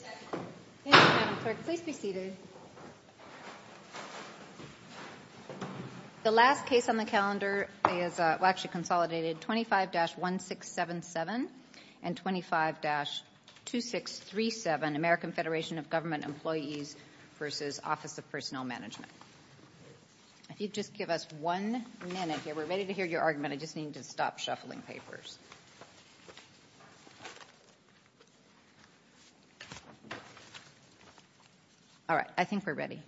Thank you, Madam Clerk. Please be seated. The last case on the calendar is, well actually consolidated, 25-1677 and 25-2637, American Federation of Government Employees v. Office of Personnel Management. If you'd just give us one minute here, we're ready to hear your argument. I just need you to stop shuffling papers. All right. I think we're ready.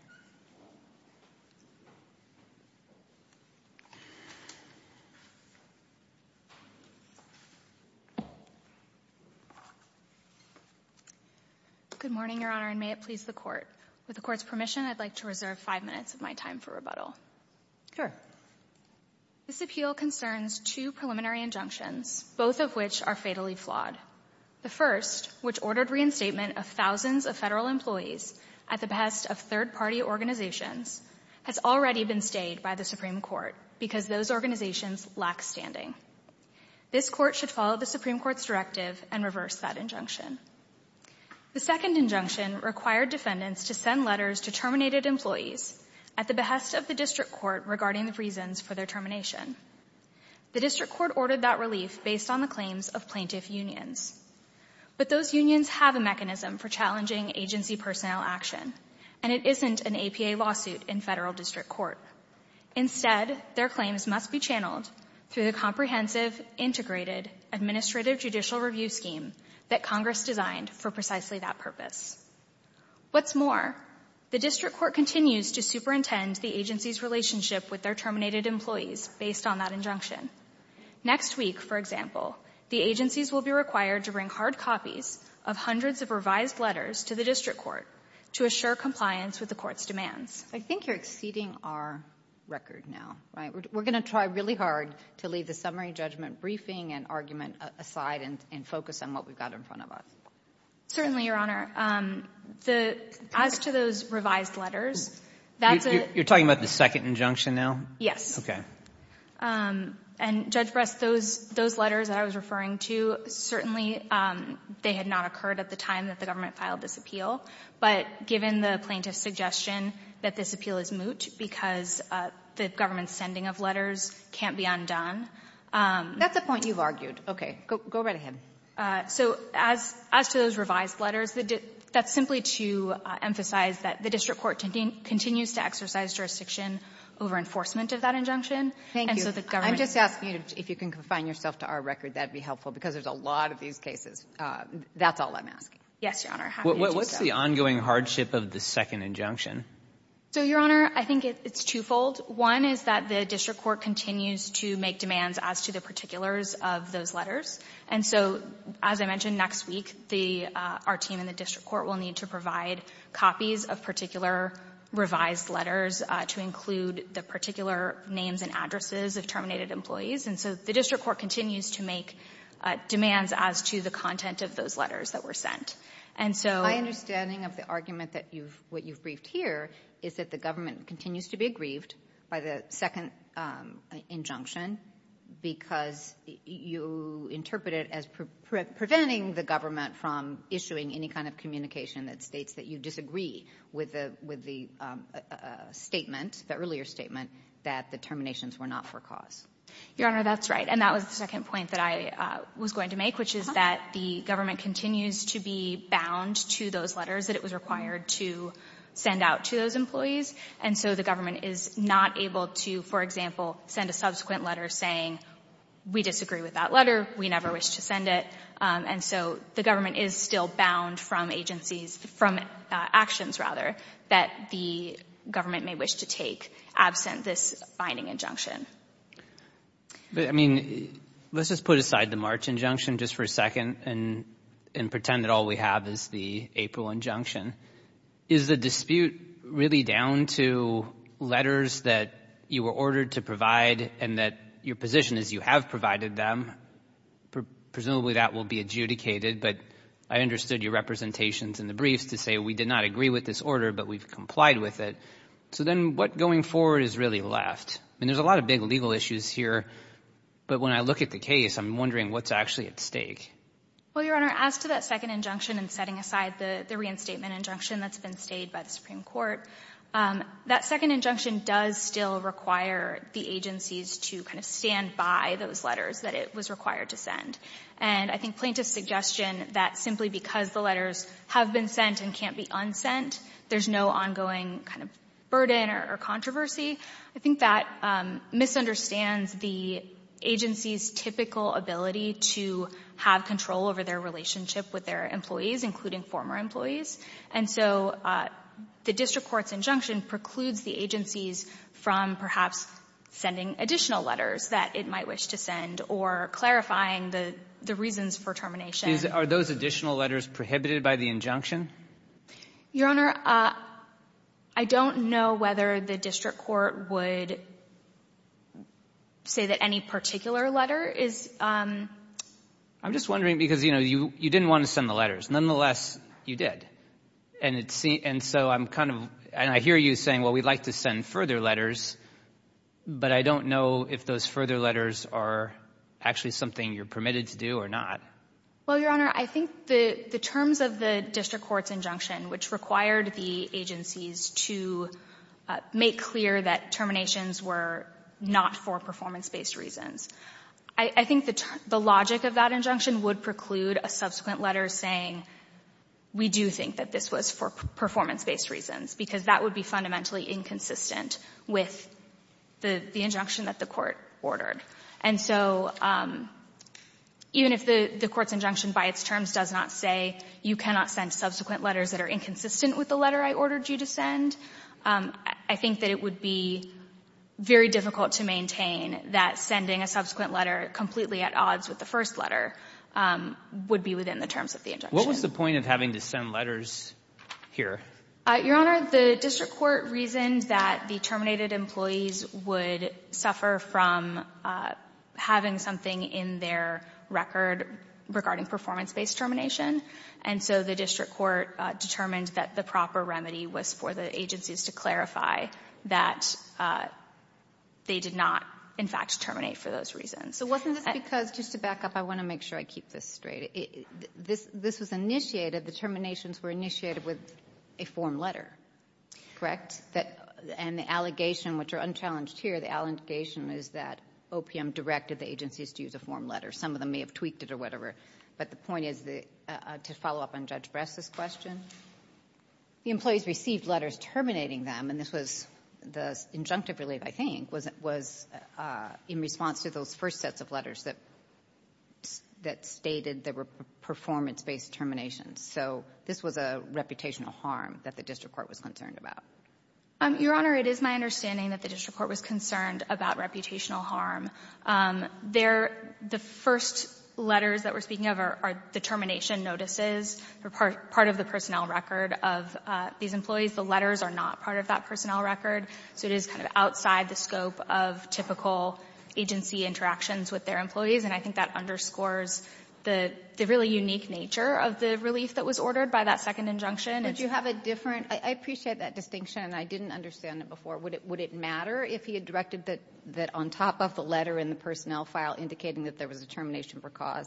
Good morning, Your Honor, and may it please the Court. With the Court's permission, I'd like to reserve five minutes of my time for rebuttal. Sure. This appeal concerns two preliminary injunctions, both of which are fatally flawed. The first, which ordered reinstatement of thousands of federal employees at the behest of third-party organizations, has already been stayed by the Supreme Court because those organizations lack standing. This Court should follow the Supreme Court's directive and reverse that injunction. The second injunction required defendants to send letters to terminated employees at the behest of the District Court regarding the reasons for their termination. The District Court ordered that relief based on the claims of plaintiff unions. But those unions have a mechanism for challenging agency personnel action, and it isn't an APA lawsuit in federal district court. Instead, their claims must be channeled through the comprehensive, integrated, administrative judicial review scheme that Congress designed for precisely that purpose. What's more, the District Court continues to superintend the agency's relationship with their terminated employees based on that injunction. Next week, for example, the agencies will be required to bring hard copies of hundreds of revised letters to the District Court to assure compliance with the Court's demands. I think you're exceeding our record now, right? We're going to try really hard to leave the summary judgment briefing and argument aside and focus on what we've got in front of us. Certainly, Your Honor. As to those revised letters, that's a — You're talking about the second injunction now? Yes. Okay. And, Judge Brest, those letters that I was referring to, certainly they had not occurred at the time that the government filed this appeal. But given the plaintiff's suggestion that this appeal is moot because the government's sending of letters can't be undone — That's a point you've argued. Okay. Go right ahead. So as to those revised letters, that's simply to emphasize that the District Court continues to exercise jurisdiction over enforcement of that injunction. I'm just asking if you can confine yourself to our record, that would be helpful, because there's a lot of these cases. That's all I'm asking. Yes, Your Honor. What's the ongoing hardship of the second injunction? So, Your Honor, I think it's twofold. One is that the District Court continues to make demands as to the particulars of those letters. And so, as I mentioned, next week, the — our team in the District Court will need to provide copies of particular revised letters to include the particular names and addresses of terminated employees. And so the District Court continues to make demands as to the content of those letters that were sent. And so — My understanding of the argument that you've — what you've briefed here is that the government continues to be aggrieved by the second injunction because you interpret it as preventing the government from issuing any kind of communication that states that you disagree with the — with the statement, the earlier statement, that the terminations were not for cause. Your Honor, that's right. And that was the second point that I was going to make, which is that the government continues to be bound to those letters that it was required to send out to those employees. And so the government is not able to, for example, send a subsequent letter saying we disagree with that letter, we never wish to send it. And so the government is still bound from agencies — from actions, rather, that the government may wish to take absent this binding injunction. But, I mean, let's just put aside the March injunction just for a second and pretend that all we have is the April injunction. Is the dispute really down to letters that you were ordered to provide and that your position is you have provided them? Presumably that will be adjudicated, but I understood your representations in the briefs to say we did not agree with this order, but we've complied with it. So then what going forward is really left? I mean, there's a lot of big legal issues here, but when I look at the case, I'm wondering what's actually at stake. Well, Your Honor, as to that second injunction and setting aside the reinstatement injunction that's been stayed by the Supreme Court, that second injunction does still require the agencies to kind of stand by those letters that it was required to send. And I think plaintiff's suggestion that simply because the letters have been sent and can't be unsent, there's no ongoing kind of burden or controversy, I think that misunderstands the agency's typical ability to have control over their relationship with their employees, including former employees. And so the district court's injunction precludes the agencies from perhaps sending additional letters that it might wish to send or clarifying the reasons for termination. Are those additional letters prohibited by the injunction? Your Honor, I don't know whether the district court would say that any particular letter is. I'm just wondering because, you know, you didn't want to send the letters. Nonetheless, you did. And so I'm kind of — and I hear you saying, well, we'd like to send further letters, but I don't know if those further letters are actually something you're permitted to do or not. Well, Your Honor, I think the terms of the district court's injunction, which required the agencies to make clear that terminations were not for performance-based reasons, I think the logic of that injunction would preclude a subsequent letter saying we do think that this was for performance-based reasons, because that would be fundamentally inconsistent with the injunction that the court ordered. And so even if the court's injunction by its terms does not say you cannot send subsequent letters that are inconsistent with the letter I ordered you to send, I think that it would be very difficult to maintain that sending a subsequent letter completely at odds with the first letter would be within the terms of the injunction. What was the point of having to send letters here? Your Honor, the district court reasoned that the terminated employees would suffer from having something in their record regarding performance-based termination. And so the district court determined that the proper remedy was for the agencies to clarify that they did not, in fact, terminate for those reasons. So wasn't this because, just to back up, I want to make sure I keep this straight, this was initiated, the terminations were initiated with a form letter, correct? And the allegation, which are unchallenged here, the allegation is that OPM directed the agencies to use a form letter. Some of them may have tweaked it or whatever. But the point is, to follow up on Judge Bress's question, the employees received letters terminating them, and this was the injunctive relief, I think, was in response to those first sets of letters that stated there were performance-based terminations. So this was a reputational harm that the district court was concerned about. Your Honor, it is my understanding that the district court was concerned about reputational harm. There the first letters that we're speaking of are the termination notices. They're part of the personnel record of these employees. The letters are not part of that personnel record. So it is kind of outside the scope of typical agency interactions with their employees, and I think that underscores the really unique nature of the relief that was ordered by that second injunction. And so you have a different, I appreciate that distinction, and I didn't understand it before. Would it matter if he had directed that on top of the letter in the personnel file indicating that there was a termination for cause,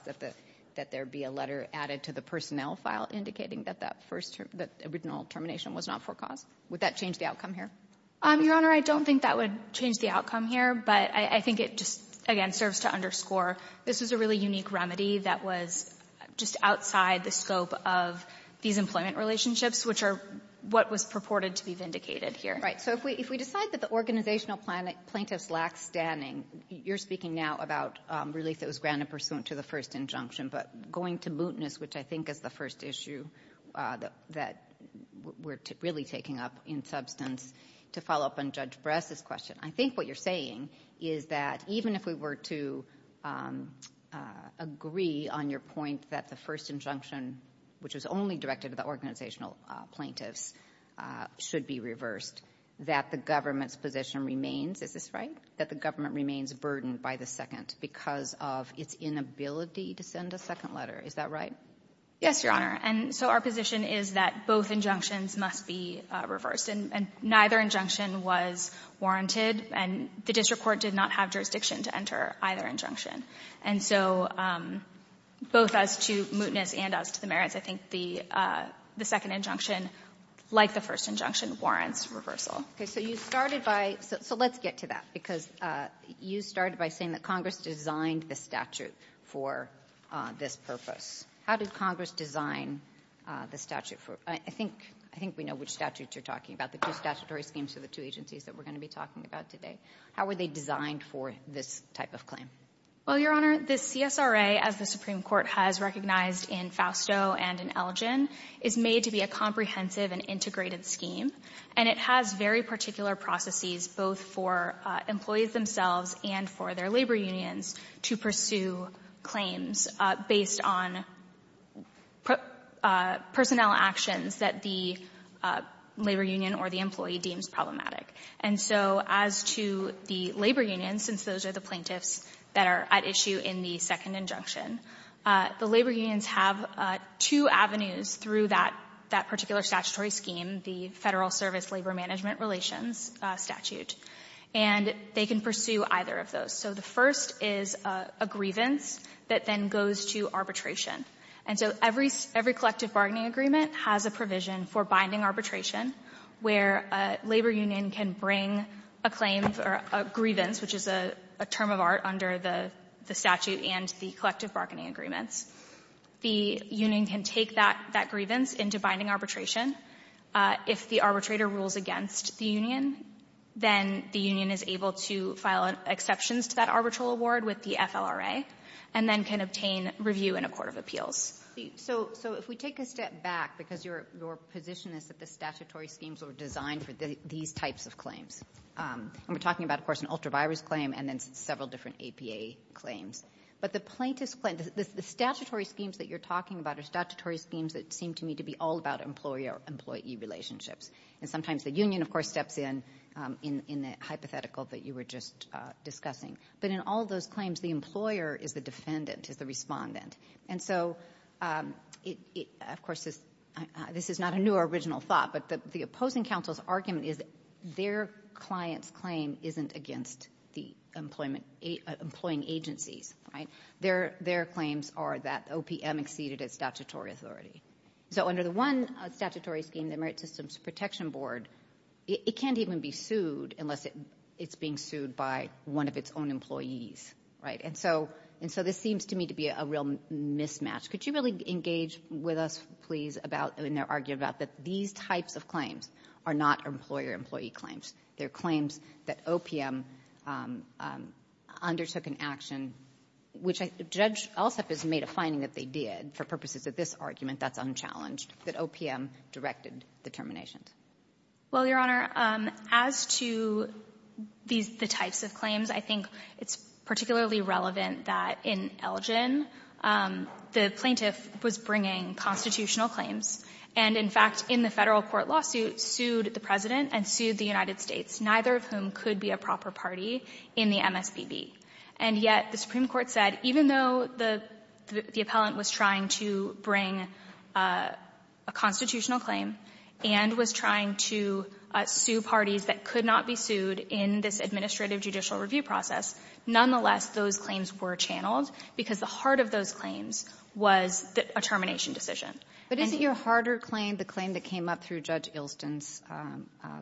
that there be a letter added to the personnel file indicating that that first original termination was not for cause? Would that change the outcome here? Your Honor, I don't think that would change the outcome here. But I think it just, again, serves to underscore this is a really unique remedy that was just outside the scope of these employment relationships, which are what was purported to be vindicated here. Right. So if we decide that the organizational plaintiffs lack standing, you're speaking now about relief that was granted pursuant to the first injunction. But going to mootness, which I think is the first issue that we're really taking up in substance, to follow up on Judge Bress's question, I think what you're saying is that even if we were to agree on your point that the first injunction, which was only directed to the organizational plaintiffs, should be reversed, that the government's position remains, is this right, that the government remains burdened by the second because of its inability to send a second letter? Is that right? Yes, Your Honor. And so our position is that both injunctions must be reversed. And neither injunction was warranted, and the district court did not have jurisdiction to enter either injunction. And so both as to mootness and as to the merits, I think the second injunction, like the first injunction, warrants reversal. Okay. So you started by – so let's get to that because you started by saying that Congress designed the statute for this purpose. How did Congress design the statute for – I think we know which statutes you're talking about, the two statutory schemes for the two agencies that we're going to be talking about today. How were they designed for this type of claim? Well, Your Honor, the CSRA, as the Supreme Court has recognized in Fausto and in Elgin, is made to be a comprehensive and integrated scheme, and it has very particular processes both for employees themselves and for their labor unions to pursue claims based on personnel actions that the labor union or the employee deems problematic. And so as to the labor unions, since those are the plaintiffs that are at issue in the second injunction, the labor unions have two avenues through that particular statutory scheme, the Federal Service Labor Management Relations statute. And they can pursue either of those. So the first is a grievance that then goes to arbitration. And so every collective bargaining agreement has a provision for binding arbitration where a labor union can bring a claim for a grievance, which is a term of art under the statute and the collective bargaining agreements. The union can take that grievance into binding arbitration. If the arbitrator rules against the union, then the union is able to file exceptions to that arbitral award with the FLRA and then can obtain review in a court of appeals. So if we take a step back, because your position is that the statutory schemes are designed for these types of claims. And we're talking about, of course, an ultra-virus claim and then several different APA claims. But the statutory schemes that you're talking about are statutory schemes that seem to me to be all about employee-employee relationships. And sometimes the union, of course, steps in in the hypothetical that you were just discussing. But in all those claims, the employer is the defendant, is the respondent. And so, of course, this is not a new or original thought, but the opposing counsel's argument is their client's claim isn't against the employing agencies. Their claims are that OPM exceeded its statutory authority. So under the one statutory scheme, the Merit Systems Protection Board, it can't even be sued unless it's being sued by one of its own employees. Right? And so this seems to me to be a real mismatch. Could you really engage with us, please, about when they're arguing about that these types of claims are not employer-employee claims? They're claims that OPM undertook an action, which Judge Elstrup has made a finding that they did for purposes of this argument that's unchallenged, that OPM directed the terminations. Well, Your Honor, as to these the types of claims, I think it's particularly relevant that in Elgin, the plaintiff was bringing constitutional claims and, in fact, in the Federal court lawsuit, sued the President and sued the United States, neither of whom could be a proper party in the MSPB. And yet the Supreme Court said even though the appellant was trying to bring a constitutional claim and was trying to sue parties that could not be sued in this administrative judicial review process, nonetheless, those claims were channeled because the heart of those claims was a termination decision. But isn't your harder claim the claim that came up through Judge Ilston's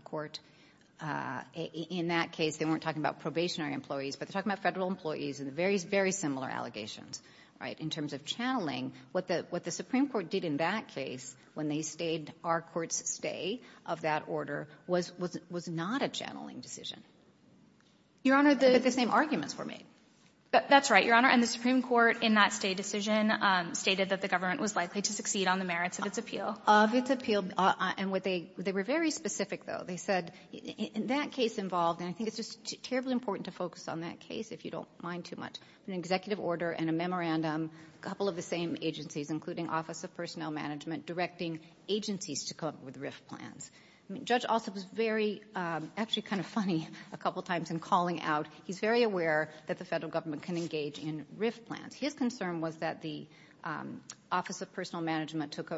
court? In that case, they weren't talking about probationary employees, but they're talking about Federal employees and very, very similar allegations, right, in terms of channeling. What the Supreme Court did in that case when they stayed our court's stay of that order was not a channeling decision. But the same arguments were made. That's right, Your Honor. And the Supreme Court in that stay decision stated that the government was likely to succeed on the merits of its appeal. Of its appeal. And they were very specific, though. They said in that case involved, and I think it's just terribly important to focus on that case, if you don't mind too much, an executive order and a memorandum, a couple of the same agencies, including Office of Personnel Management, directing agencies to come up with RIF plans. I mean, Judge Ilston was very, actually kind of funny a couple times in calling out, he's very aware that the Federal Government can engage in RIF plans. His concern was that the Office of Personnel Management took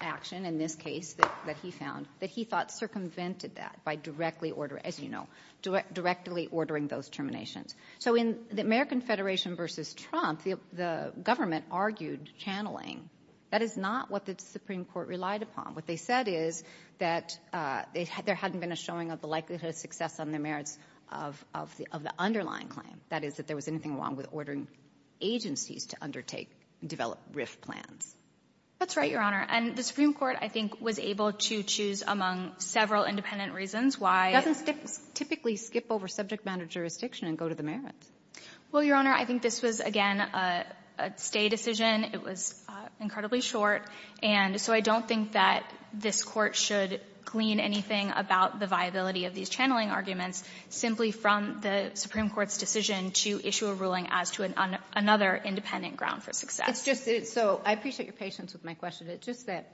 action in this case that he found, that he thought circumvented that by directly ordering, as you know, directly ordering those terminations. So in the American Federation v. Trump, the government argued channeling. That is not what the Supreme Court relied upon. What they said is that there hadn't been a showing of the likelihood of success on the merits of the underlying claim. That is, that there was anything wrong with ordering agencies to undertake and develop RIF plans. That's right, Your Honor. And the Supreme Court, I think, was able to choose among several independent reasons why — It doesn't typically skip over subject matter jurisdiction and go to the merits. Well, Your Honor, I think this was, again, a stay decision. It was incredibly short. And so I don't think that this Court should glean anything about the viability of these channeling arguments simply from the Supreme Court's decision to issue a ruling as to another independent ground for success. It's just that — so I appreciate your patience with my question. It's just that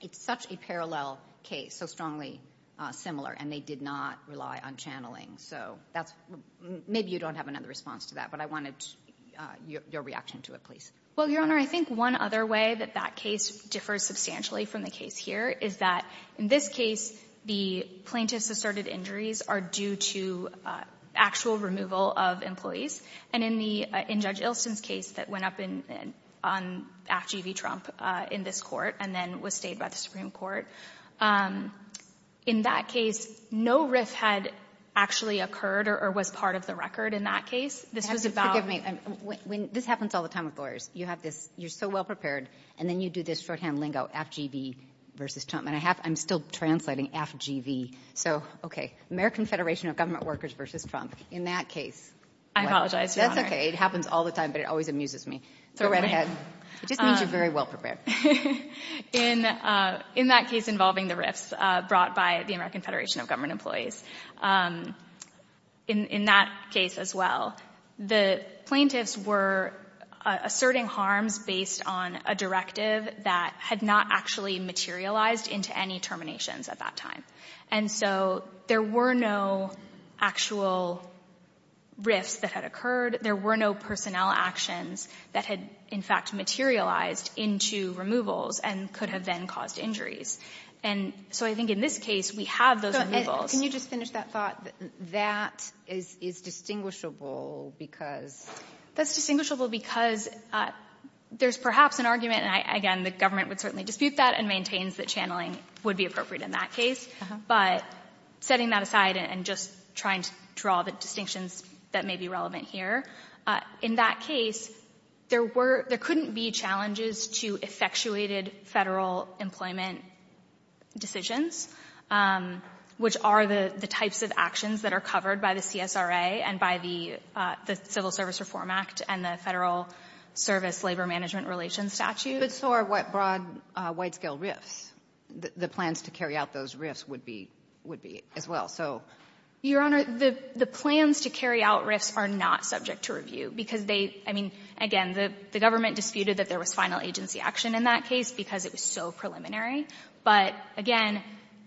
it's such a parallel case, so strongly similar, and they did not rely on channeling. So that's — maybe you don't have another response to that, but I wanted your reaction to it, please. Well, Your Honor, I think one other way that that case differs substantially from the case here is that, in this case, the plaintiff's asserted injuries are due to actual removal of employees. And in the — in Judge Ilson's case that went up in — on — after you beat Trump in this court and then was stayed by the Supreme Court, in that case, no RIF claim had actually occurred or was part of the record in that case. This was about — Have you forgiven me? When — this happens all the time with lawyers. You have this — you're so well-prepared, and then you do this shorthand lingo, FGV versus Trump. And I have — I'm still translating FGV. So, okay, American Federation of Government Workers versus Trump. In that case — I apologize, Your Honor. That's okay. It happens all the time, but it always amuses me. Go right ahead. It just means you're very well-prepared. In that case involving the RIFs brought by the American Federation of Government Employees, in that case as well, the plaintiffs were asserting harms based on a directive that had not actually materialized into any terminations at that time. And so there were no actual RIFs that had occurred. There were no personnel actions that had, in fact, materialized into removals and could have then caused injuries. And so I think in this case, we have those removals. Can you just finish that thought? That is distinguishable because — That's distinguishable because there's perhaps an argument, and again, the government would certainly dispute that, and maintains that channeling would be appropriate in that case. But setting that aside and just trying to draw the distinctions that may be relevant here, in that case, there were — there couldn't be challenges to effectuated Federal employment decisions, which are the types of actions that are covered by the CSRA and by the Civil Service Reform Act and the Federal Service Labor Management Relations Statute. But so are what broad, wide-scale RIFs, the plans to carry out those RIFs would be — would be as well. Your Honor, the — the plans to carry out RIFs are not subject to review because they — I mean, again, the government disputed that there was final agency action in that case because it was so preliminary. But again,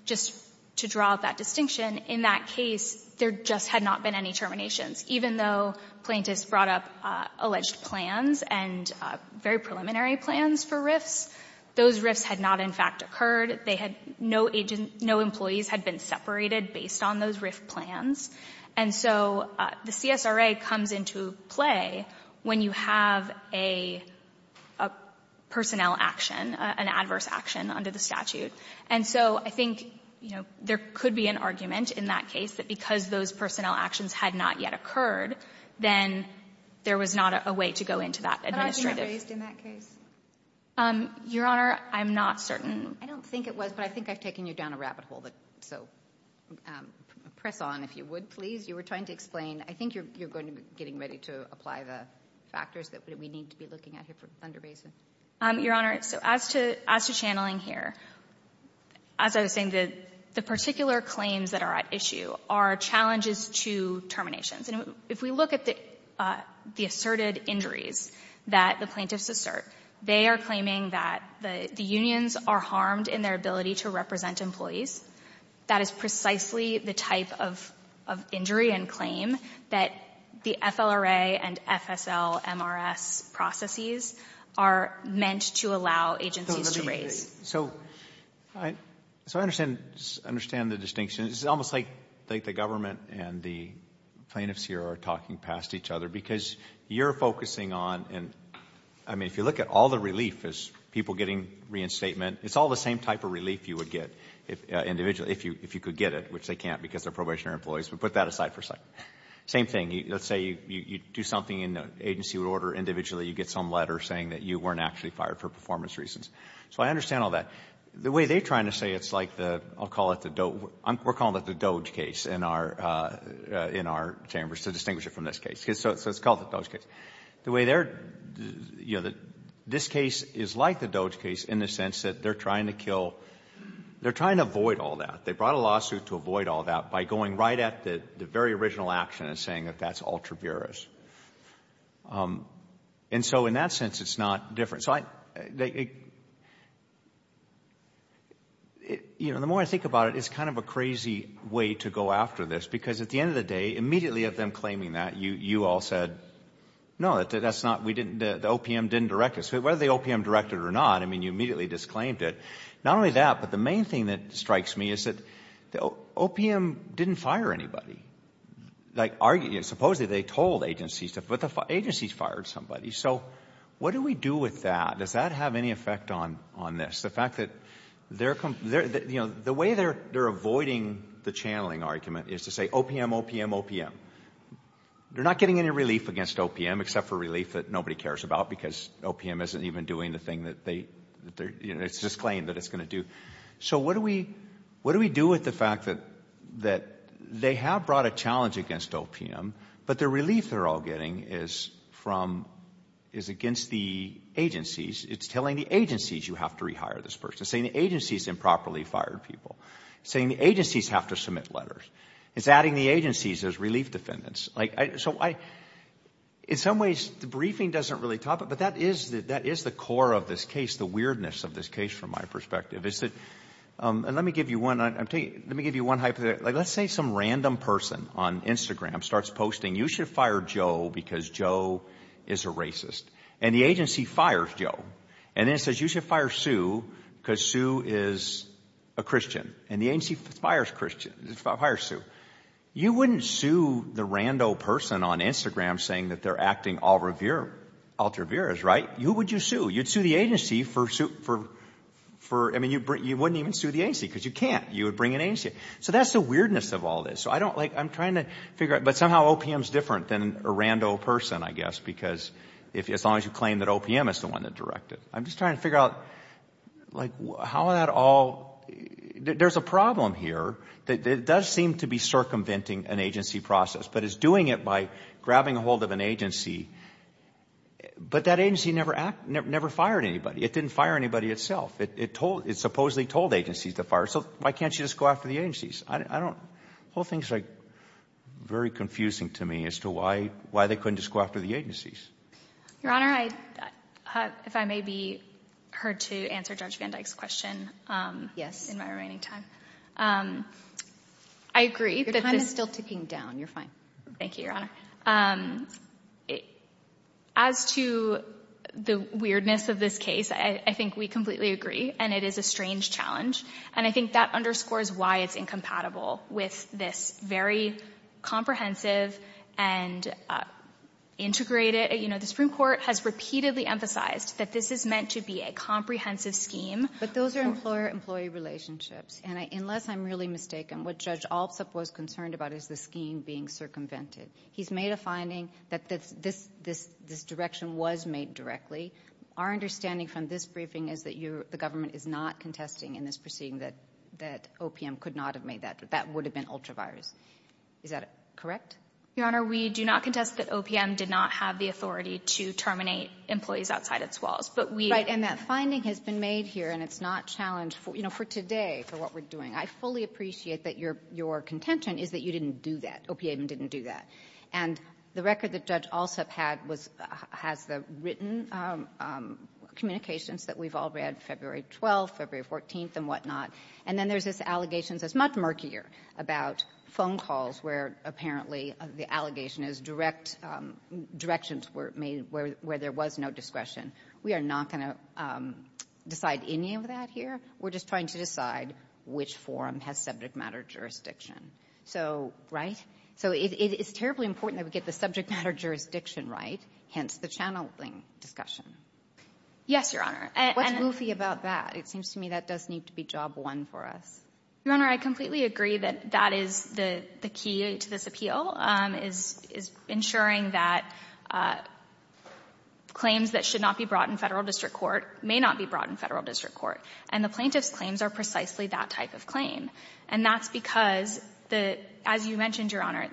just to draw that distinction, in that case, there just had not been any terminations. Even though plaintiffs brought up alleged plans and very preliminary plans for RIFs, those RIFs had not, in fact, occurred. They had no agent — no employees had been separated based on those RIF plans. And so the CSRA comes into play when you have a — a personnel action, an adverse action under the statute. And so I think, you know, there could be an argument in that case that because those personnel actions had not yet occurred, then there was not a way to go into that administrative — Your Honor, I'm not certain. I don't think it was, but I think I've taken you down a rabbit hole. So press on, if you would, please. You were trying to explain. I think you're going to be getting ready to apply the factors that we need to be looking at here for Thunder Basin. Your Honor, so as to — as to channeling here, as I was saying, the particular claims that are at issue are challenges to terminations. And if we look at the — the asserted injuries that the plaintiffs assert, they are claiming that the unions are harmed in their ability to represent employees. That is precisely the type of injury and claim that the FLRA and FSL-MRS processes are meant to allow agencies to raise. So I understand — understand the distinction. It's almost like the government and the plaintiffs here are talking past each other because you're focusing on — I mean, if you look at all the relief as people getting reinstatement, it's all the same type of relief you would get individually if you could get it, which they can't because they're probationary employees. We put that aside for a second. Same thing. Let's say you do something and the agency would order individually you get some letter saying that you weren't actually fired for performance reasons. So I understand all that. The way they're trying to say it's like the — I'll call it the doge — we're calling it the doge case in our chambers, to distinguish it from this case. So it's called the doge case. The way they're — you know, this case is like the doge case in the sense that they're trying to kill — they're trying to avoid all that. They brought a lawsuit to avoid all that by going right at the very original action and saying that that's ultra vires. And so in that sense, it's not different. So I — you know, the more I think about it, it's kind of a crazy way to go after this because at the end of the day, immediately of them claiming that, you all said, no, that's not — we didn't — the OPM didn't direct us. Whether the OPM directed it or not, I mean, you immediately disclaimed it. Not only that, but the main thing that strikes me is that the OPM didn't fire anybody. Like, supposedly they told agencies to — but the agencies fired somebody. So what do we do with that? Does that have any effect on this? The fact that they're — you know, the way they're avoiding the channeling argument is to say OPM, OPM, OPM. They're not getting any relief against OPM except for relief that nobody cares about because OPM isn't even doing the thing that they — it's disclaimed that it's going to do. So what do we do with the fact that they have brought a challenge against OPM, but the relief they're all getting is from — is against the agencies. It's telling the agencies you have to rehire this person. It's saying the agencies improperly fired people. It's saying the agencies have to submit letters. It's adding the agencies as relief defendants. Like, so I — in some ways, the briefing doesn't really top it, but that is the core of this case, the weirdness of this case from my perspective, is that — and let me give you one — let me give you one hypothetical. Like, let's say some random person on Instagram starts posting, you should fire Joe because Joe is a racist. And the agency fires Joe. And then it says you should fire Sue because Sue is a Christian. And the agency fires Sue. You wouldn't sue the rando person on Instagram saying that they're acting altruvieras, right? Who would you sue? You'd sue the agency for — I mean, you wouldn't even sue the agency because you can't. You would bring an agency. So that's the weirdness of all this. So I don't — like, I'm trying to figure out — but somehow OPM is different than a rando person, I guess, because as long as you claim that OPM is the one that directed. I'm just trying to figure out, like, how that all — there's a problem here. It does seem to be circumventing an agency process, but it's doing it by grabbing a hold of an agency. But that agency never fired anybody. It didn't fire anybody itself. It supposedly told agencies to fire. So why can't you just go after the agencies? I don't — the whole thing is, like, very confusing to me as to why they couldn't just go after the agencies. Your Honor, if I may be heard to answer Judge Van Dyke's question in my remaining time. I agree that this — Your time is still ticking down. You're fine. Thank you, Your Honor. As to the weirdness of this case, I think we completely agree. And it is a strange challenge. And I think that underscores why it's incompatible with this very comprehensive and integrated — you know, the Supreme Court has repeatedly emphasized that this is meant to be a comprehensive scheme. But those are employer-employee relationships. And unless I'm really mistaken, what Judge Altsup was concerned about is the scheme being circumvented. He's made a finding that this direction was made directly. Our understanding from this briefing is that the government is not contesting in this proceeding that OPM could not have made that. That would have been ultra-virus. Is that correct? Your Honor, we do not contest that OPM did not have the authority to terminate employees outside its walls. But we — Right. And that finding has been made here. And it's not challenged, you know, for today, for what we're doing. I fully appreciate that your contention is that you didn't do that. OPM didn't do that. And the record that Judge Altsup had was — has the written communications that we've all read, February 12th, February 14th, and whatnot. And then there's this allegation that's much murkier about phone calls where apparently the allegation is direct — directions were made where there was no discretion. We are not going to decide any of that here. We're just trying to decide which forum has subject matter jurisdiction. So — right? So it's terribly important that we get the subject matter jurisdiction right, hence the channeling discussion. Yes, Your Honor. What's goofy about that? It seems to me that does need to be job one for us. Your Honor, I completely agree that that is the key to this appeal, is ensuring that claims that should not be brought in Federal district court may not be brought in Federal district court. And the plaintiff's claims are precisely that type of claim. And that's because the — as you mentioned, Your Honor,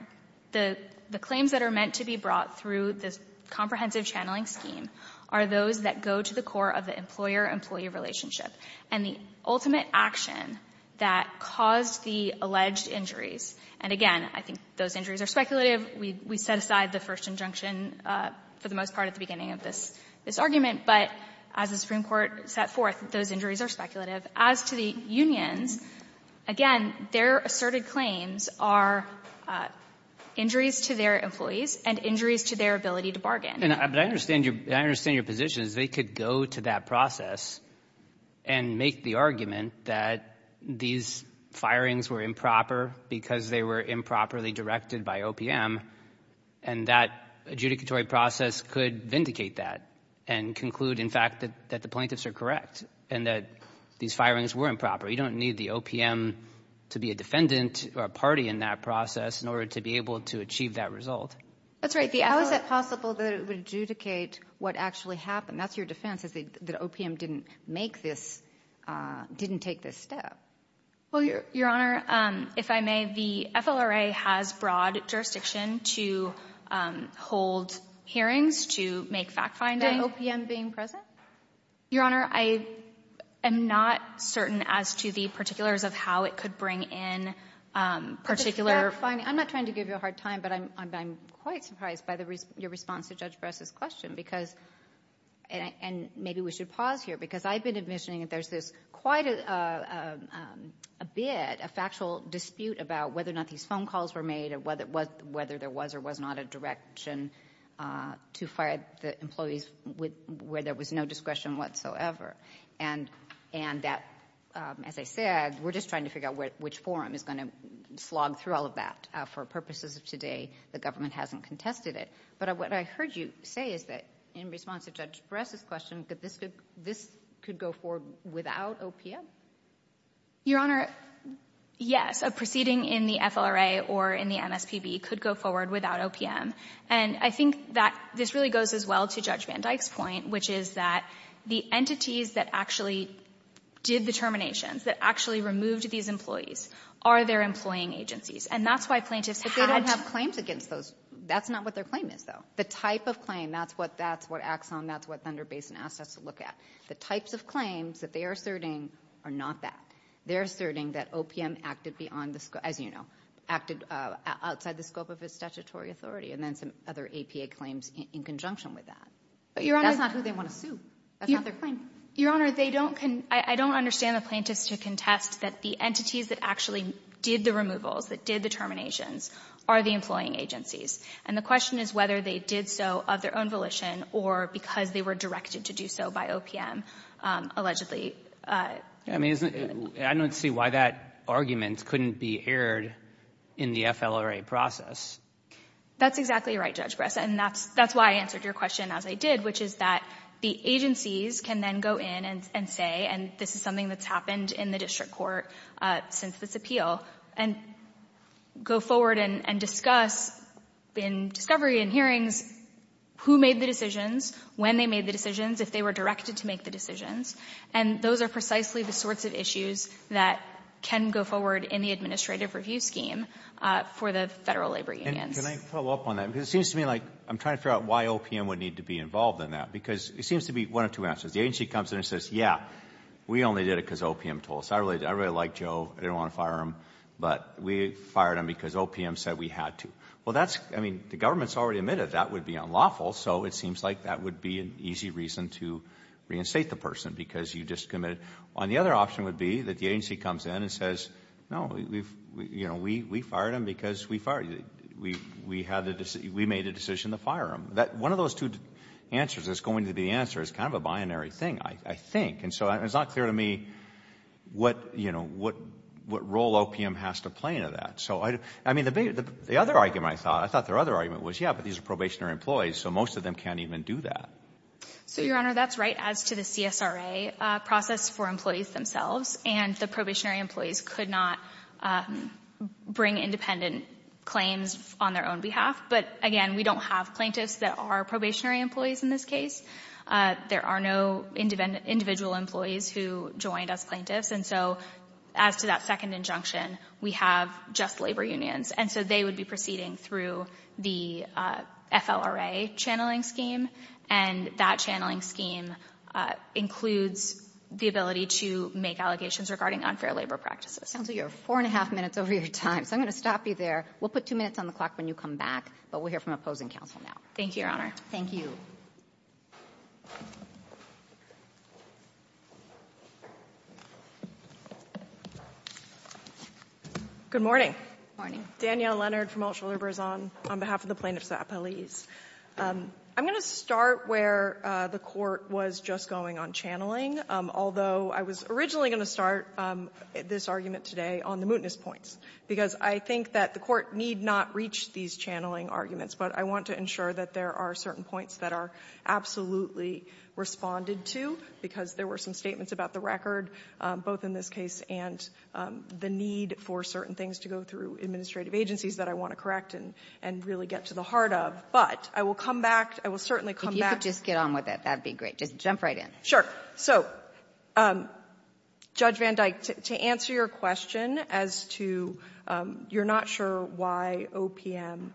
the claims that are meant to be brought through this comprehensive channeling scheme are those that go to the core of the employer-employee relationship. And the ultimate action that caused the alleged injuries — and, again, I think those injuries are speculative. We set aside the first injunction for the most part at the beginning of this argument. But as the Supreme Court set forth, those injuries are speculative. As to the unions, again, their asserted claims are injuries to their employees and injuries to their ability to bargain. And I understand your — I understand your position is they could go to that process and make the argument that these firings were improper because they were improperly directed by OPM, and that adjudicatory process could vindicate that and conclude, in fact, that the plaintiffs are correct and that these firings were improper. You don't need the OPM to be a defendant or a party in that process in order to be able to achieve that result. That's right. How is it possible that it would adjudicate what actually happened? That's your defense, is that OPM didn't make this — didn't take this step. Well, Your Honor, if I may, the FLRA has broad jurisdiction to hold hearings, to make fact-finding. Isn't that OPM being present? Your Honor, I am not certain as to the particulars of how it could bring in particular fact-finding. I'm not trying to give you a hard time, but I'm quite surprised by your response to Judge Bress's question, because — and maybe we should pause here, because I've been envisioning that there's this quite a bit, a factual dispute about whether or not these phone calls were made or whether there was or was not a direction to fire the employees where there was no discretion whatsoever. And that, as I said, we're just trying to figure out which forum is going to slog through all of that. For purposes of today, the government hasn't contested it. But what I heard you say is that in response to Judge Bress's question, that this could go forward without OPM? Your Honor, yes. A proceeding in the FLRA or in the MSPB could go forward without OPM. And I think that this really goes as well to Judge Van Dyke's point, which is that the entities that actually did the terminations, that actually removed these employees, are their employing agencies. And that's why plaintiffs had to — But they don't have claims against those. That's not what their claim is, though. The type of claim, that's what that's what acts on, that's what Thunder Basin asked us to look at. The types of claims that they are asserting are not that. They're asserting that OPM acted beyond the scope, as you know, acted outside the scope of its statutory authority, and then some other APA claims in conjunction with that. But that's not who they want to sue. That's not their claim. Your Honor, they don't — I don't understand the plaintiffs to contest that the entities that actually did the removals, that did the terminations, are the employing agencies. And the question is whether they did so of their own volition or because they were directed to do so by OPM, allegedly. I mean, I don't see why that argument couldn't be aired in the FLRA process. That's exactly right, Judge Bress. And that's why I answered your question as I did, which is that the agencies can then go in and say, and this is something that's happened in the district court since this appeal, and go forward and discuss in discovery and hearings who made the decisions, when they made the decisions, if they were directed to make the decisions. And those are precisely the sorts of issues that can go forward in the administrative review scheme for the federal labor unions. And can I follow up on that? Because it seems to me like I'm trying to figure out why OPM would need to be involved in that. Because it seems to be one of two answers. The agency comes in and says, yeah, we only did it because OPM told us. I really liked Joe. I didn't want to fire him. But we fired him because OPM said we had to. Well, that's — I mean, the government has already admitted that would be unlawful, so it seems like that would be an easy reason to reinstate the person because you just committed. And the other option would be that the agency comes in and says, no, we fired him because we fired him. We made a decision to fire him. One of those two answers that's going to be the answer is kind of a binary thing, I think. And so it's not clear to me what role OPM has to play in that. So, I mean, the other argument I thought, I thought their other argument was, yeah, but these are probationary employees, so most of them can't even do that. So, Your Honor, that's right as to the CSRA process for employees themselves. And the probationary employees could not bring independent claims on their own behalf. But, again, we don't have plaintiffs that are probationary employees in this case. There are no individual employees who joined as plaintiffs. And so as to that second injunction, we have just labor unions. And so they would be proceeding through the FLRA channeling scheme. And that channeling scheme includes the ability to make allegations regarding unfair labor practices. Counsel, you have four and a half minutes over your time. So I'm going to stop you there. We'll put two minutes on the clock when you come back. But we'll hear from opposing counsel now. Thank you, Your Honor. Thank you. Good morning. Good morning. Danielle Leonard from Alt Shuler-Brezon on behalf of the plaintiffs' appellees. I'm going to start where the Court was just going on channeling, although I was originally going to start this argument today on the mootness points, because I think that the Court need not reach these channeling arguments. But I want to ensure that there are certain points that are absolutely responded to, because there were some statements about the record, both in this case and the other, that were certain things to go through administrative agencies that I want to correct and really get to the heart of. But I will come back. I will certainly come back. If you could just get on with it, that would be great. Just jump right in. Sure. So, Judge Van Dyke, to answer your question as to you're not sure why OPM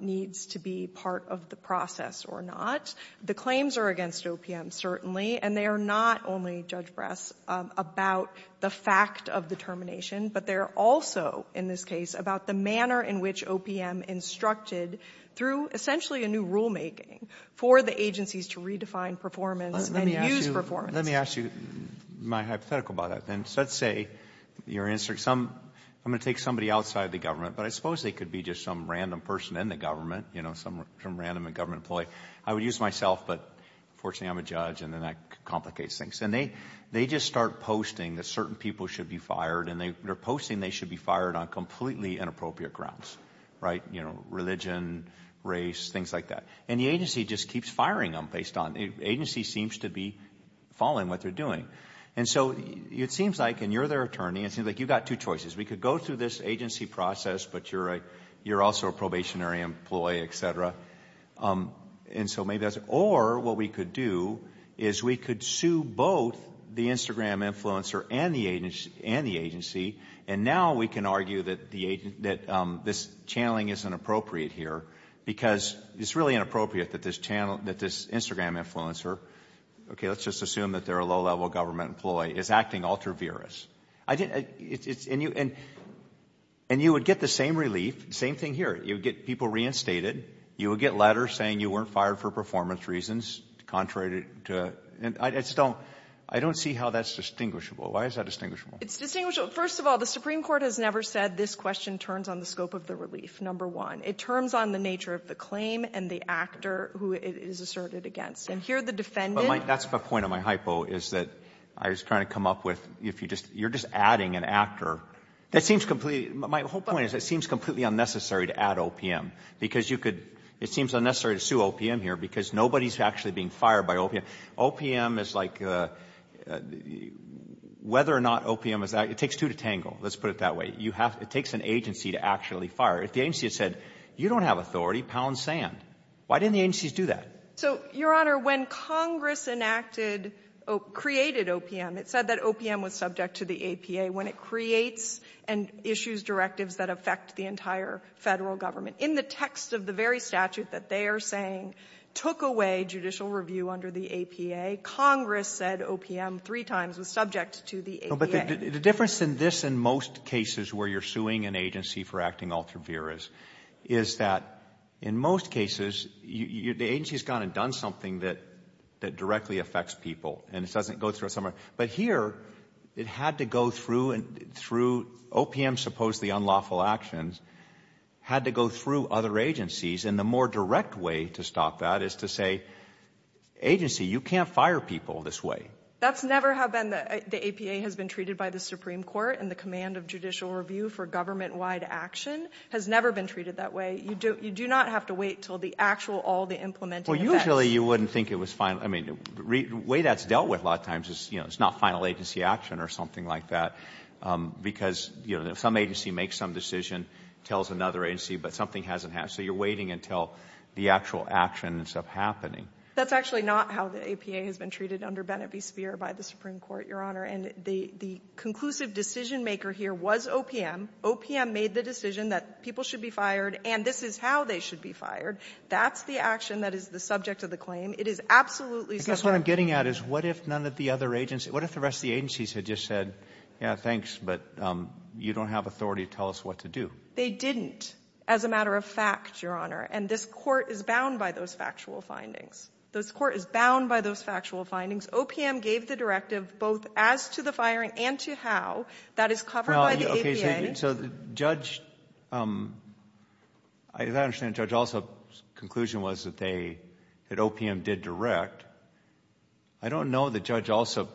needs to be part of the process or not, the claims are against OPM, certainly. And they are not only, Judge Bress, about the fact of the termination, but they're also, in this case, about the manner in which OPM instructed through essentially a new rulemaking for the agencies to redefine performance and use performance. Let me ask you my hypothetical about that. Let's say you're in some — I'm going to take somebody outside the government, but I suppose they could be just some random person in the government, you know, some random government employee. I would use myself, but unfortunately I'm a judge, and then that complicates things. And they just start posting that certain people should be fired, and they're posting they should be fired on completely inappropriate grounds, right? You know, religion, race, things like that. And the agency just keeps firing them based on — the agency seems to be following what they're doing. And so it seems like, and you're their attorney, it seems like you've got two choices. We could go through this agency process, but you're also a probationary employee, et cetera. And so maybe that's — or what we could do is we could sue both the Instagram influencer and the agency, and now we can argue that this channeling isn't appropriate here because it's really inappropriate that this Instagram influencer — okay, let's just assume that they're a low-level government employee — is acting ultra-virus. And you would get the same relief, same thing here. You would get people reinstated. You would get letters saying you weren't fired for performance reasons, contrary to — and I just don't — I don't see how that's distinguishable. Why is that distinguishable? It's distinguishable — first of all, the Supreme Court has never said this question turns on the scope of the relief, number one. It turns on the nature of the claim and the actor who it is asserted against. And here the defendant — But my — that's the point of my hypo, is that I was trying to come up with, if you just — you're just adding an actor. That seems completely — my whole point is, it seems completely unnecessary to add OPM because you could — it seems unnecessary to sue OPM here because nobody's actually being fired by OPM. OPM is like — whether or not OPM is — it takes two to tangle, let's put it that way. You have — it takes an agency to actually fire. If the agency had said, you don't have authority, pound sand. Why didn't the agencies do that? So, Your Honor, when Congress enacted — created OPM, it said that OPM was subject to the APA. When it creates and issues directives that affect the entire Federal Government, in the text of the very statute that they are saying took away judicial review under the APA, Congress said OPM three times was subject to the APA. No, but the difference in this and most cases where you're suing an agency for acting ultra vires is that, in most cases, you — the agency's gone and done something that — that directly affects people, and it doesn't go through a summary. But here, it had to go through — through OPM's supposedly unlawful actions, had to go through other agencies, and the more direct way to stop that is to say, agency, you can't fire people this way. That's never how been the — the APA has been treated by the Supreme Court, and the command of judicial review for government-wide action has never been treated that way. You don't — you do not have to wait until the actual — all the implementing effects — I mean, the way that's dealt with a lot of times is, you know, it's not final agency action or something like that, because, you know, some agency makes some decision, tells another agency, but something hasn't happened. So you're waiting until the actual action ends up happening. That's actually not how the APA has been treated under Bennett v. Speer by the Supreme Court, Your Honor. And the — the conclusive decision-maker here was OPM. OPM made the decision that people should be fired, and this is how they should be fired. That's the action that is the subject of the claim. It is absolutely — I guess what I'm getting at is, what if none of the other agency — what if the rest of the agencies had just said, yeah, thanks, but you don't have authority to tell us what to do? They didn't, as a matter of fact, Your Honor. And this Court is bound by those factual findings. This Court is bound by those factual findings. OPM gave the directive both as to the firing and to how. That is covered by the APA. Okay. So the judge — as I understand it, Judge, also the conclusion was that they — that they did direct. I don't know that Judge Alsop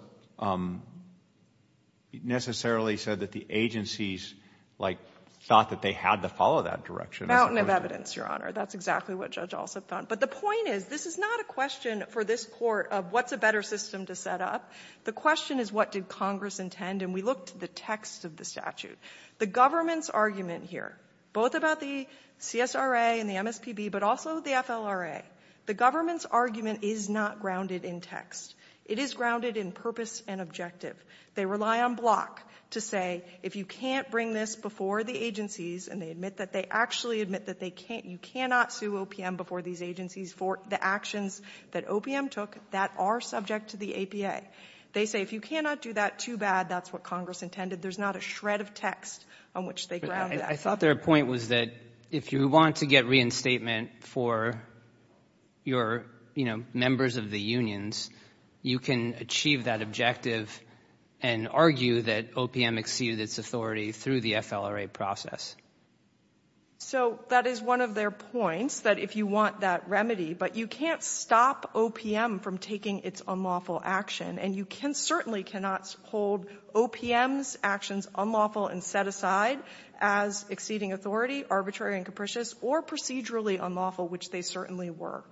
necessarily said that the agencies, like, thought that they had to follow that direction. It's a question — Mountain of evidence, Your Honor. That's exactly what Judge Alsop found. But the point is, this is not a question for this Court of what's a better system to set up. The question is, what did Congress intend? And we looked at the text of the statute. The government's argument here, both about the CSRA and the MSPB, but also the FLRA, the government's argument is not grounded in text. It is grounded in purpose and objective. They rely on Block to say, if you can't bring this before the agencies — and they admit that. They actually admit that they can't — you cannot sue OPM before these agencies for the actions that OPM took that are subject to the APA. They say, if you cannot do that too bad, that's what Congress intended. There's not a shred of text on which they ground that. I thought their point was that if you want to get reinstatement for your, you know, members of the unions, you can achieve that objective and argue that OPM exceeded its authority through the FLRA process. So that is one of their points, that if you want that remedy. But you can't stop OPM from taking its unlawful action. And you can certainly cannot hold OPM's actions unlawful and set aside as exceeding authority, arbitrary and capricious, or procedurally unlawful, which they certainly were.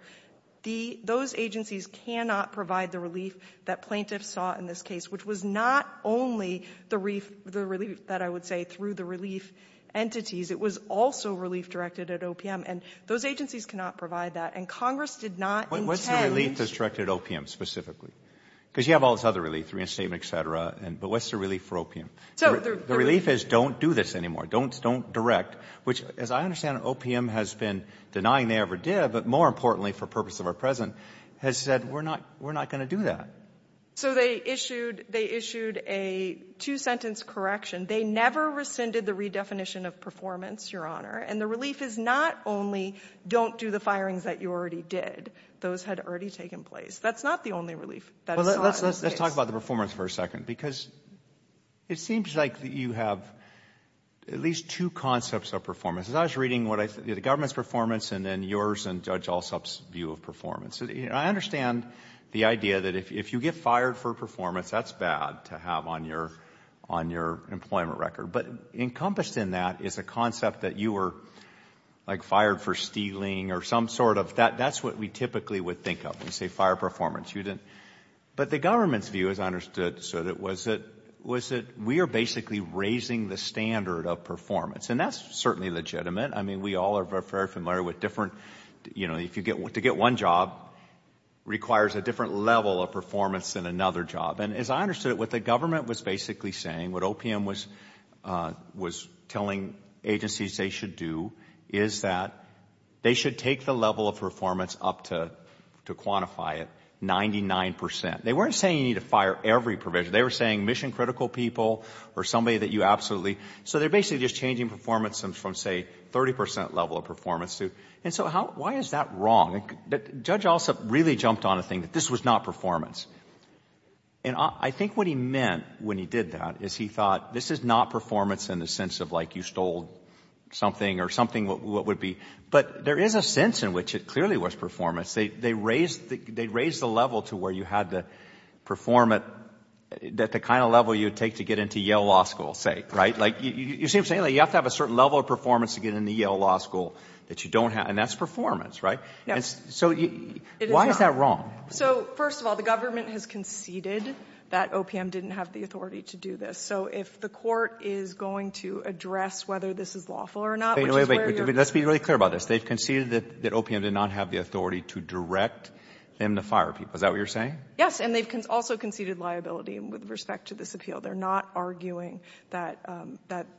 Those agencies cannot provide the relief that plaintiffs saw in this case, which was not only the relief that I would say through the relief entities. It was also relief directed at OPM. And those agencies cannot provide that. And Congress did not intend to do that. But what's the relief that's directed at OPM specifically? Because you have all this other relief, reinstatement, et cetera. But what's the relief for OPM? The relief is, don't do this anymore. Don't direct. Which, as I understand it, OPM has been denying they ever did, but more importantly for the purpose of our President, has said, we're not going to do that. So they issued a two-sentence correction. They never rescinded the redefinition of performance, Your Honor. And the relief is not only don't do the firings that you already did. Those had already taken place. That's not the only relief that is sought in this case. Let's talk about the performance for a second, because it seems like you have at least two concepts of performance. As I was reading the government's performance and then yours and Judge Alsop's view of performance, I understand the idea that if you get fired for performance, that's bad to have on your employment record. But encompassed in that is a concept that you were, like, fired for stealing or some sort of that. That's what we typically would think of when we say fire performance. But the government's view, as I understood it, was that we are basically raising the standard of performance. And that's certainly legitimate. I mean, we all are very familiar with different, you know, to get one job requires a different level of performance than another job. And as I understood it, what the government was basically saying, what OPM was telling agencies they should do, is that they should take the level of performance up to, to quantify it, 99 percent. They weren't saying you need to fire every provision. They were saying mission critical people or somebody that you absolutely. So they're basically just changing performance from, say, 30 percent level of performance. And so why is that wrong? Judge Alsop really jumped on a thing that this was not performance. And I think what he meant when he did that is he thought this is not performance in the sense of, like, you stole something or something what would be. But there is a sense in which it clearly was performance. They raised the level to where you had to perform at the kind of level you would take to get into Yale Law School, say, right? Like, you see what I'm saying? You have to have a certain level of performance to get into Yale Law School that you don't have. And that's performance, right? And so why is that wrong? So, first of all, the government has conceded that OPM didn't have the authority to do this. So if the court is going to address whether this is lawful or not, which is where you're going to be. Wait, wait, wait. Let's be really clear about this. They've conceded that OPM did not have the authority to direct them to fire people. Is that what you're saying? Yes. And they've also conceded liability with respect to this appeal. They're not arguing that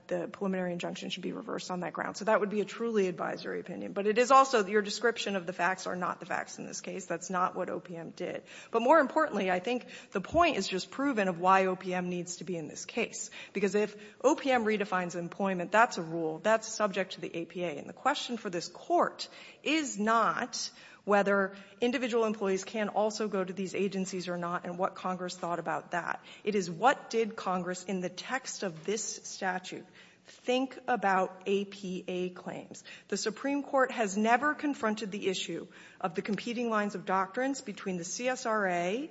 the preliminary injunction should be reversed on that ground. So that would be a truly advisory opinion. But it is also your description of the facts are not the facts in this case. That's not what OPM did. But more importantly, I think the point is just proven of why OPM needs to be in this case. Because if OPM redefines employment, that's a rule. That's subject to the APA. And the question for this Court is not whether individual employees can also go to these agencies or not and what Congress thought about that. It is what did Congress in the text of this statute think about APA claims. The Supreme Court has never confronted the issue of the competing lines of doctrines between the CSRA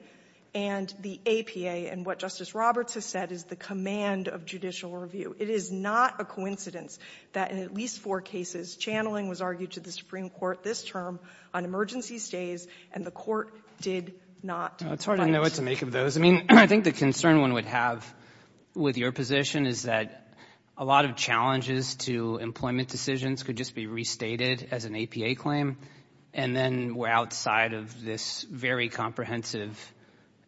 and the APA and what Justice Roberts has said is the command of judicial review. It is not a coincidence that in at least four cases, channeling was argued to the Supreme Court this term on emergency stays, and the Court did not. It's hard to know what to make of those. I mean, I think the concern one would have with your position is that a lot of challenges to employment decisions could just be restated as an APA claim. And then we're outside of this very comprehensive,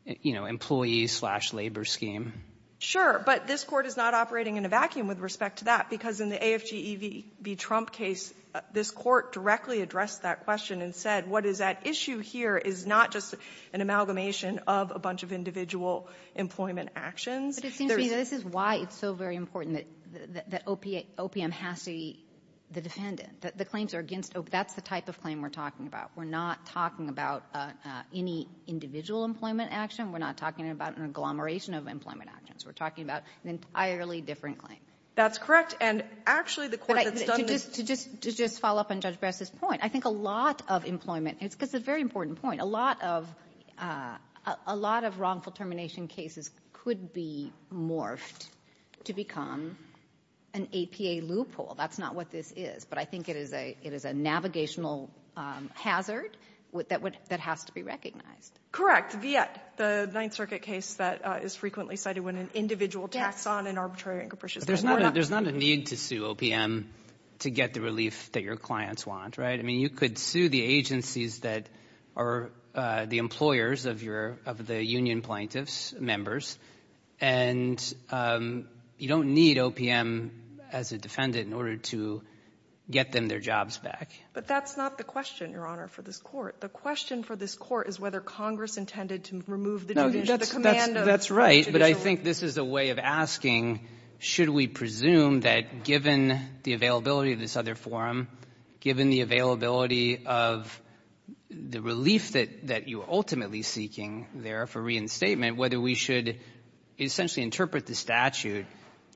you know, employee-slash-labor scheme. Sure. But this Court is not operating in a vacuum with respect to that because in the AFG-EV Trump case, this Court directly addressed that question and said what is at issue here is not just an amalgamation of a bunch of individual employment actions. But it seems to me that this is why it's so very important that OPM has to be the defendant, that the claims are against OPM. That's the type of claim we're talking about. We're not talking about any individual employment action. We're not talking about an agglomeration of employment actions. We're talking about an entirely different claim. That's correct. And actually, the Court that's done this to just follow up on Judge Bress's point. I think a lot of employment, and it's a very important point, a lot of wrongful determination cases could be morphed to become an APA loophole. That's not what this is. But I think it is a navigational hazard that would — that has to be recognized. Correct. Viet, the Ninth Circuit case that is frequently cited when an individual tacks on an arbitrary and capricious — There's not a need to sue OPM to get the relief that your clients want, right? I mean, you could sue the agencies that are the employers of your — of the union plaintiffs' members, and you don't need OPM as a defendant in order to get them their jobs back. But that's not the question, Your Honor, for this Court. The question for this Court is whether Congress intended to remove the judicial command of — No, that's — that's right. But I think this is a way of asking, should we presume that, given the availability of this other forum, given the availability of the relief that — that you're ultimately seeking there for reinstatement, whether we should essentially interpret the statute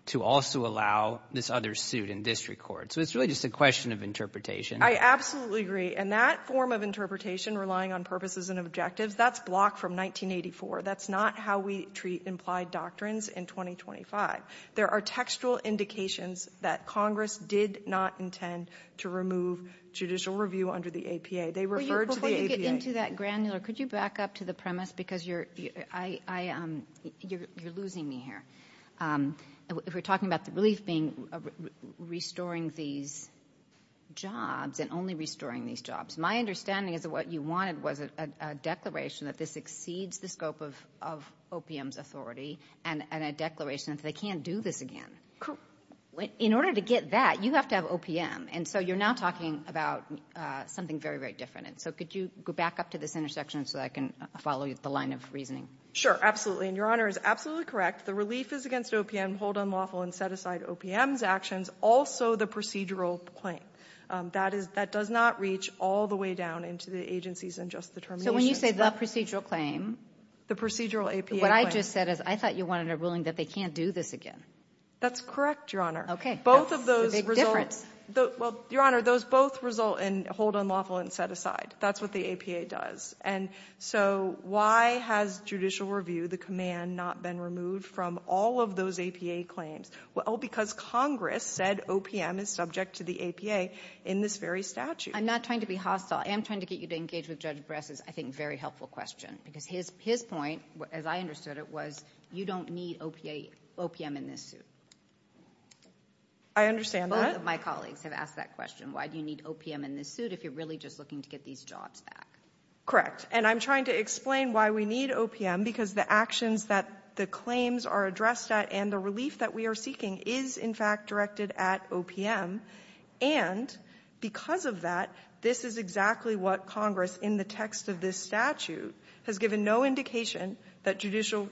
to also allow this other suit in district court? So it's really just a question of interpretation. I absolutely agree. And that form of interpretation, relying on purposes and objectives, that's blocked from 1984. That's not how we treat implied doctrines in 2025. There are textual indications that Congress did not intend to remove judicial review under the APA. They referred to the APA — Could you get into that granular — could you back up to the premise? Because you're — I — you're losing me here. If we're talking about the relief being — restoring these jobs and only restoring these jobs, my understanding is that what you wanted was a declaration that this exceeds the scope of OPM's authority and a declaration that they can't do this again. In order to get that, you have to have OPM. And so you're now talking about something very, very different. So could you go back up to this intersection so that I can follow the line of reasoning? Absolutely. And Your Honor is absolutely correct. The relief is against OPM, hold unlawful, and set aside OPM's actions, also the procedural claim. That is — that does not reach all the way down into the agencies and just the terminations. So when you say the procedural claim — The procedural APA claim — What I just said is I thought you wanted a ruling that they can't do this again. That's correct, Your Honor. Okay. Both of those — That's the big difference. Well, Your Honor, those both result in hold unlawful and set aside. That's what the APA does. And so why has judicial review, the command, not been removed from all of those APA claims? Well, because Congress said OPM is subject to the APA in this very statute. I'm not trying to be hostile. I am trying to get you to engage with Judge Bress's, I think, very helpful question. Because his point, as I understood it, was you don't need OPM in this suit. I understand that. My colleagues have asked that question. Why do you need OPM in this suit if you're really just looking to get these jobs back? And I'm trying to explain why we need OPM, because the actions that the claims are addressed at and the relief that we are seeking is, in fact, directed at OPM. And because of that, this is exactly what Congress, in the text of this statute, has given no indication that judicial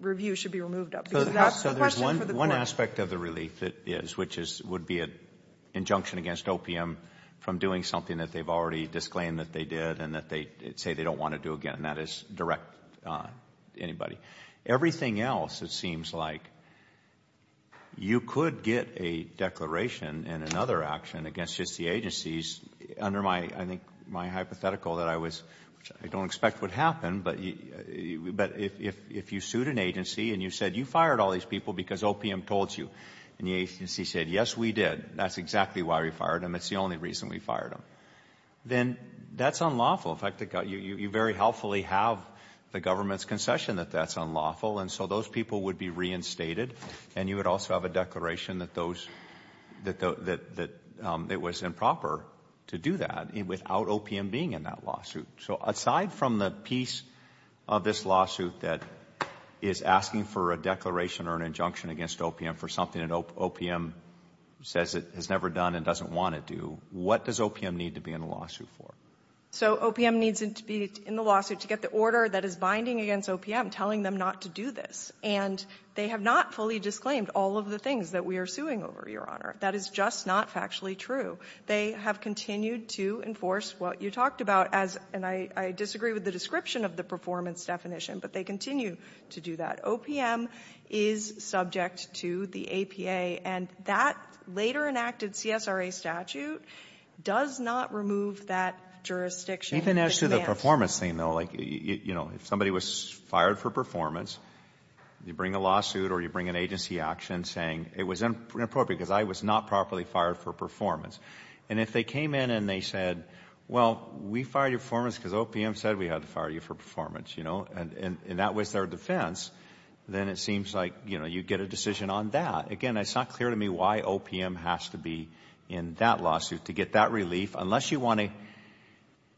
review should be removed of. Because that's the question for the court. One aspect of the relief that is, which would be an injunction against OPM from doing something that they've already disclaimed that they did and that they say they don't want to do again, and that is direct anybody. Everything else, it seems like, you could get a declaration and another action against just the agencies under my, I think, my hypothetical that I was, which I don't expect would happen, but if you sued an agency and you said you fired all these people because OPM told you, and the agency said, yes, we did, that's exactly why we fired them, it's the only reason we fired them, then that's unlawful. In fact, you very helpfully have the government's concession that that's unlawful, and so those people would be reinstated, and you would also have a declaration that those, that it was improper to do that without OPM being in that lawsuit. So aside from the piece of this lawsuit that is asking for a declaration or an injunction against OPM for something that OPM says it has never done and doesn't want to do, what does OPM need to be in the lawsuit for? So OPM needs to be in the lawsuit to get the order that is binding against OPM telling them not to do this. And they have not fully disclaimed all of the things that we are suing over, Your Honor. That is just not factually true. They have continued to enforce what you talked about as, and I disagree with the description of the performance definition, but they continue to do that. OPM is subject to the APA, and that later enacted CSRA statute does not remove that jurisdiction. Even as to the performance thing, though, like, you know, if somebody was fired for performance, you bring a lawsuit or you bring an agency action saying it was inappropriate because I was not properly fired for performance, and if they came in and they said, well, we fired you for performance because OPM said we had to fire you for performance, you know, and that was their defense, then it seems like, you know, you get a decision on that. Again, it is not clear to me why OPM has to be in that lawsuit to get that relief, unless you want to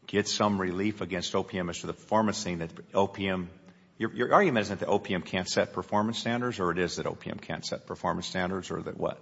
get some relief against OPM as to the performance thing that OPM — your argument is that OPM can't set performance standards, or it is that OPM can't set performance standards, or that what?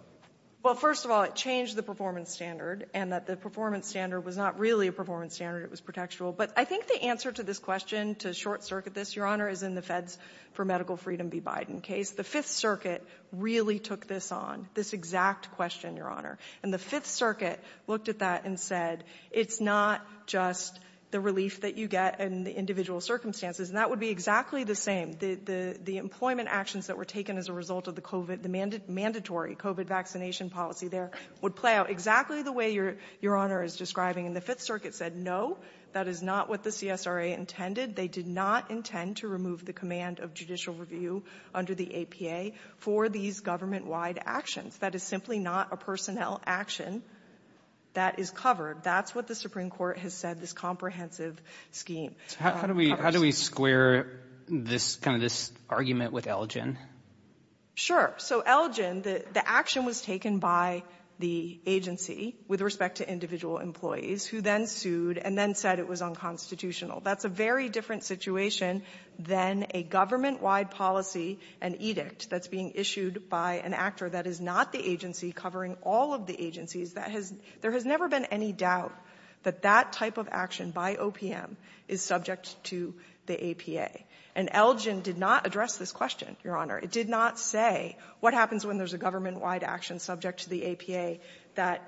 Well, first of all, it changed the performance standard and that the performance standard was not really a performance standard. It was protectual. But I think the answer to this question, to short-circuit this, Your Honor, is in the Feds for Medical Freedom v. Biden case. The Fifth Circuit really took this on, this exact question, Your Honor, and the Fifth Circuit looked at that and said, it is not just the relief that you get in the individual circumstances. And that would be exactly the same. The employment actions that were taken as a result of the COVID — the mandatory COVID vaccination policy there would play out exactly the way Your Honor is describing. And the Fifth Circuit said, no, that is not what the CSRA intended. They did not intend to remove the command of judicial review under the APA for these government-wide actions. That is simply not a personnel action that is covered. That's what the Supreme Court has said, this comprehensive scheme. So how do we — how do we square this — kind of this argument with Elgin? Sure. So Elgin, the — the action was taken by the agency with respect to individual employees who then sued and then said it was unconstitutional. That's a very different situation than a government-wide policy, an edict, that's being issued by an actor that is not the agency covering all of the agencies. That has — there has never been any doubt that that type of action by OPM is subject to the APA. And Elgin did not address this question, Your Honor. It did not say what happens when there's a government-wide action subject to the APA, that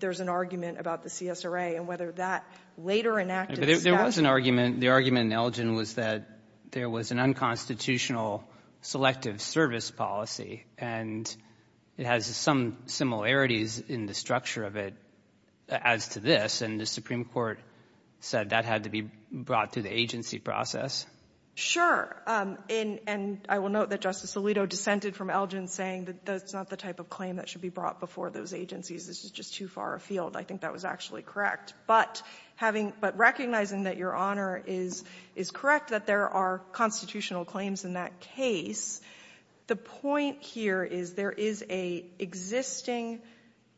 there's an argument about the CSRA, and whether that later-enacted There was an argument. The argument in Elgin was that there was an unconstitutional selective service policy, and it has some similarities in the structure of it as to this. And the Supreme Court said that had to be brought to the agency process. Sure. And I will note that Justice Alito dissented from Elgin, saying that that's not the type of claim that should be brought before those agencies. This is just too far afield. I think that was actually correct. But having — but recognizing that, Your Honor, is — is correct, that there are constitutional claims in that case. The point here is there is a existing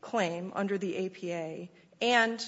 claim under the APA and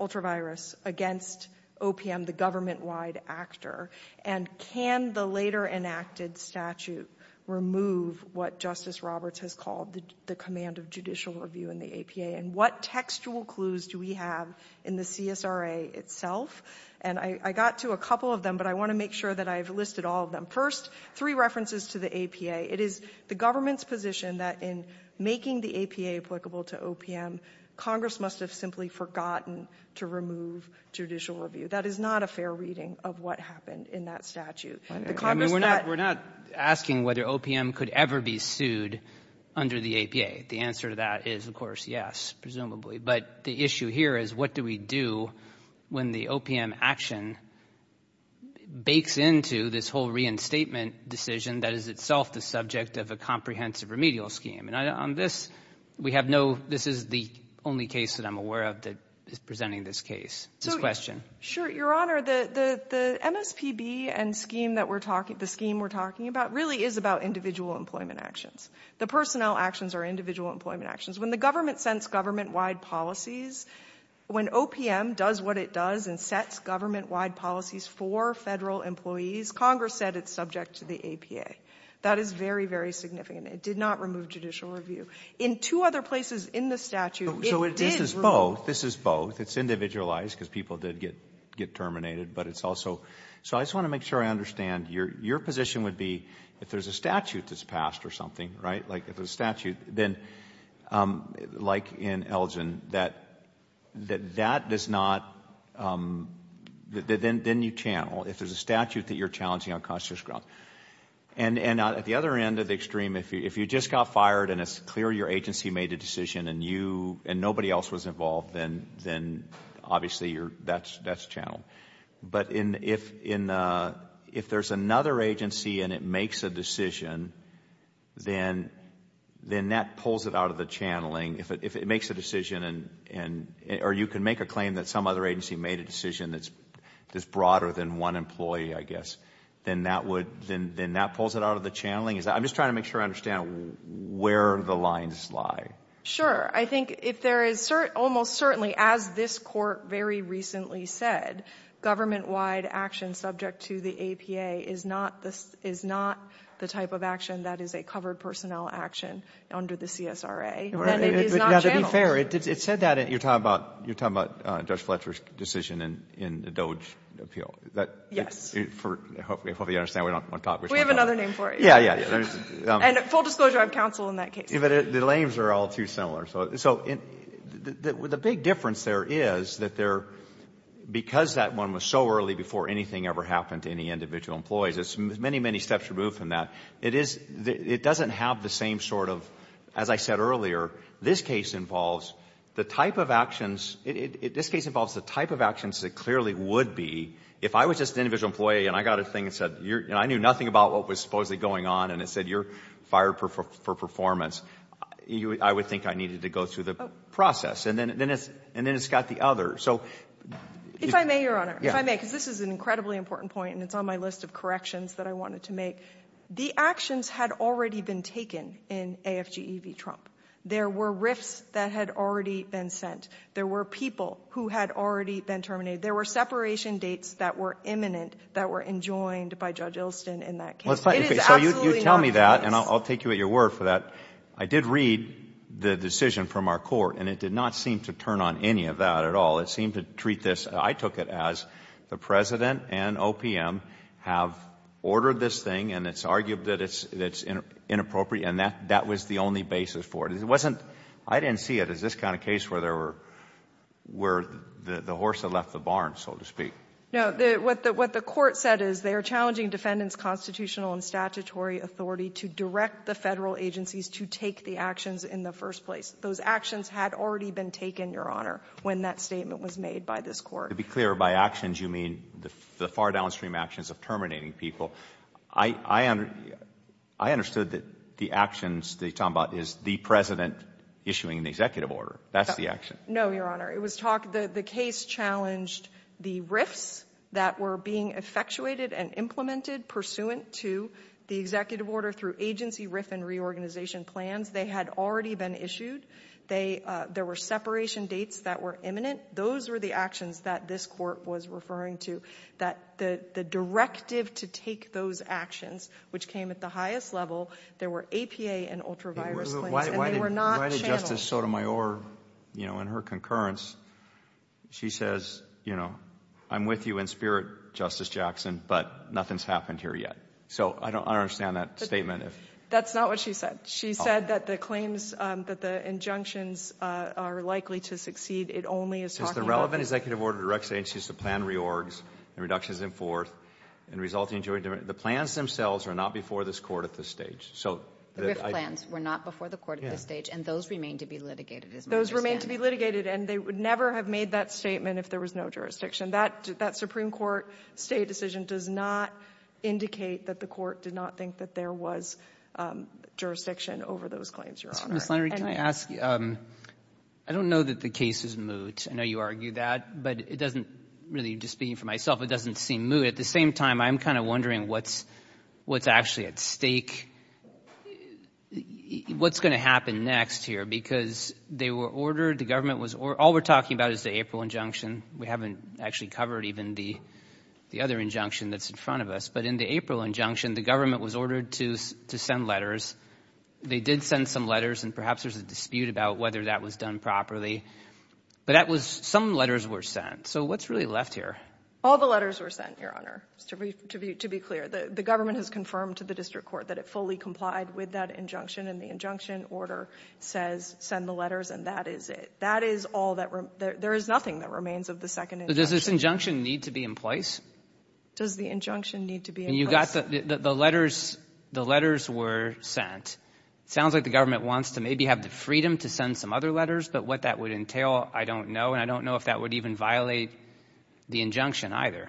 ultravirus against OPM, the government-wide actor. And can the later-enacted statute remove what Justice Roberts has called the command of judicial review in the APA? And what textual clues do we have in the CSRA itself? And I got to a couple of them, but I want to make sure that I've listed all of them. First, three references to the APA. It is the government's position that in making the APA applicable to OPM, Congress must have simply forgotten to remove judicial review. That is not a fair reading of what happened in that statute. The Congress that — I mean, we're not — we're not asking whether OPM could ever be sued under the APA. The answer to that is, of course, yes, presumably. But the issue here is what do we do when the OPM action bakes into this whole reinstatement decision that is itself the subject of a comprehensive remedial scheme? And on this, we have no — this is the only case that I'm aware of that is presenting this case, this question. Sure. Your Honor, the MSPB and scheme that we're talking — the scheme we're talking about really is about individual employment actions. The personnel actions are individual employment actions. When the government sends government-wide policies, when OPM does what it does and sets government-wide policies for Federal employees, Congress said it's subject to the APA. That is very, very significant. It did not remove judicial review. In two other places in the statute, it did remove — So this is both. This is both. It's individualized because people did get terminated, but it's also — so I just want to make sure I understand. Your position would be if there's a statute that's passed or something, right, like if there's a statute, then, like in Elgin, that that does not — that then you channel if there's a statute that you're challenging on conscious grounds. And at the other end of the extreme, if you just got fired and it's clear your agency made a decision and you — and nobody else was involved, then obviously that's channeled. But if there's another agency and it makes a decision, then that pulls it out of the channeling. If it makes a decision and — or you can make a claim that some other agency made a decision that's broader than one employee, I guess, then that would — then that pulls it out of the channeling? I'm just trying to make sure I understand where the lines lie. Sure. I think if there is almost certainly, as this Court very recently said, government-wide action subject to the APA is not the — is not the type of action that is a covered personnel action under the CSRA, then it is not channeled. Now, to be fair, it said that in — you're talking about — you're talking about Judge Fletcher's decision in the Doge appeal. That — Yes. For — hopefully you understand. We don't want to talk — We have another name for it. Yeah, yeah. And full disclosure, I'm counsel in that case. But the names are all too similar. So the big difference there is that there — because that one was so early before anything ever happened to any individual employees, there's many, many steps removed from that. It is — it doesn't have the same sort of — as I said earlier, this case involves the type of actions — this case involves the type of actions that clearly would be if I was just an individual employee and I got a thing and said — and I knew nothing about what was supposedly going on and it said you're fired for performance, I would think I needed to go through the process. And then it's — and then it's got the other. So — If I may, Your Honor, if I may, because this is an incredibly important point and it's on my list of corrections that I wanted to make. The actions had already been taken in AFGE v. Trump. There were rifts that had already been sent. There were people who had already been terminated. There were separation dates that were imminent that were enjoined by Judge Ilston in that case. So you tell me that and I'll take you at your word for that. I did read the decision from our court and it did not seem to turn on any of that at all. It seemed to treat this — I took it as the President and OPM have ordered this thing and it's argued that it's inappropriate and that was the only basis for it. It wasn't — I didn't see it as this kind of case where there were — where the horse had left the barn, so to speak. No. What the — what the Court said is they are challenging defendants' constitutional and statutory authority to direct the Federal agencies to take the actions in the first place. Those actions had already been taken, Your Honor, when that statement was made by this Court. To be clear, by actions you mean the far downstream actions of terminating people. I — I understood that the actions that you're talking about is the President issuing the executive order. That's the action. No, Your Honor. It was talked — the case challenged the RIFs that were being effectuated and implemented pursuant to the executive order through agency RIF and reorganization plans. They had already been issued. They — there were separation dates that were imminent. Those were the actions that this Court was referring to, that the — the directive to take those actions, which came at the highest level, there were APA and ultra-virus claims and they were not channeled. Justice Sotomayor, you know, in her concurrence, she says, you know, I'm with you in spirit, Justice Jackson, but nothing's happened here yet. So I don't understand that statement if — That's not what she said. She said that the claims, that the injunctions are likely to succeed. It only is talking about the — Since the relevant executive order directs agencies to plan reorgs and reductions in forth and resulting in joint — the plans themselves are not before this Court at this stage. So the — The RIF plans were not before the Court at this stage. And those remain to be litigated, as I understand. Those remain to be litigated. And they would never have made that statement if there was no jurisdiction. That — that Supreme Court stay decision does not indicate that the Court did not think that there was jurisdiction over those claims, Your Honor. Mr. Misalny, can I ask — I don't know that the case is moot. I know you argue that. But it doesn't — really, just speaking for myself, it doesn't seem moot. At the same time, I'm kind of wondering what's — what's actually at stake. What's going to happen next here? Because they were ordered — the government was — all we're talking about is the April injunction. We haven't actually covered even the — the other injunction that's in front of us. But in the April injunction, the government was ordered to — to send letters. They did send some letters. And perhaps there's a dispute about whether that was done properly. But that was — some letters were sent. So what's really left here? All the letters were sent, Your Honor, to be — to be clear. The government has confirmed to the district court that it fully complied with that injunction. And the injunction order says, send the letters, and that is it. That is all that — there is nothing that remains of the second injunction. But does this injunction need to be in place? Does the injunction need to be in place? And you got the — the letters — the letters were sent. Sounds like the government wants to maybe have the freedom to send some other letters. But what that would entail, I don't know. And I don't know if that would even violate the injunction either.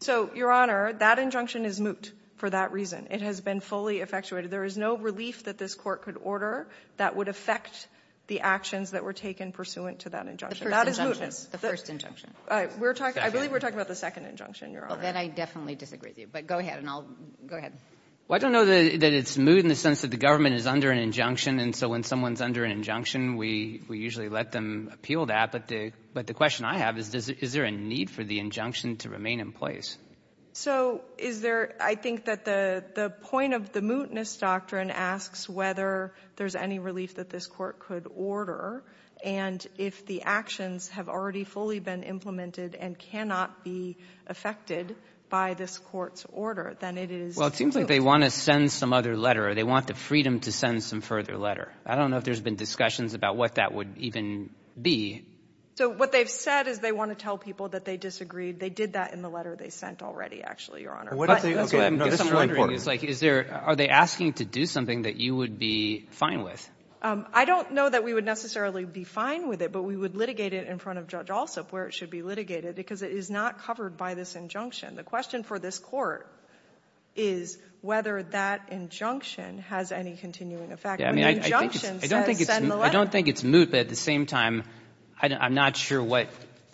So, Your Honor, that injunction is moot for that reason. It has been fully effectuated. There is no relief that this court could order that would affect the actions that were taken pursuant to that injunction. That is mootness. The first injunction. We're talking — I believe we're talking about the second injunction, Your Honor. Well, then I definitely disagree with you. But go ahead, and I'll — go ahead. Well, I don't know that it's moot in the sense that the government is under an injunction. And so when someone's under an injunction, we — we usually let them appeal that. But the question I have is, is there a need for the injunction to remain in place? So is there — I think that the point of the mootness doctrine asks whether there's any relief that this court could order. And if the actions have already fully been implemented and cannot be affected by this court's order, then it is — Well, it seems like they want to send some other letter. They want the freedom to send some further letter. I don't know if there's been discussions about what that would even be. So what they've said is they want to tell people that they disagreed. They did that in the letter they sent already, actually, Your Honor. What if they — Okay. No, this is really important. I'm just wondering, is there — are they asking to do something that you would be fine with? I don't know that we would necessarily be fine with it, but we would litigate it in front of Judge Alsup where it should be litigated, because it is not covered by this injunction. The question for this court is whether that injunction has any continuing effect. Yeah, I mean, I think it's — When the injunction says send the letter — I don't think it's — I don't think it's moot. But at the same time, I'm not sure what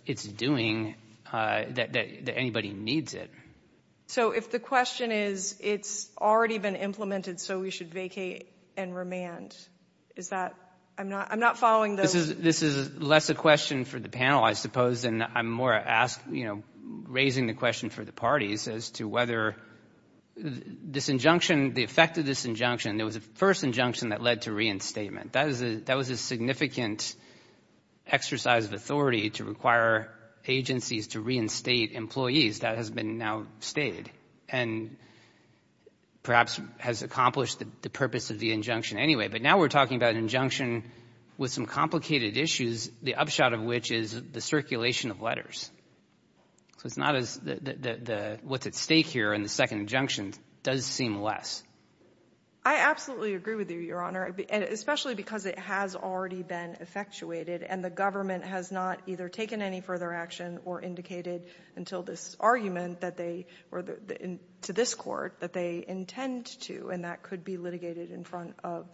it's doing, that anybody needs it. So if the question is it's already been implemented, so we should vacate and remand, is that — I'm not following those — This is less a question for the panel, I suppose, and I'm more asking — you know, raising the question for the parties as to whether this injunction — the effect of this injunction — there was a first injunction that led to reinstatement. That was a significant exercise of authority to require agencies to reinstate employees. That has been now stated and perhaps has accomplished the purpose of the injunction anyway. But now we're talking about an injunction with some complicated issues, the upshot of which is the circulation of letters. So it's not as — what's at stake here in the second injunction does seem less. I absolutely agree with you, Your Honor, especially because it has already been effectuated, and the government has not either taken any further action or indicated until this argument that they — or to this Court that they intend to, and that could be litigated in front of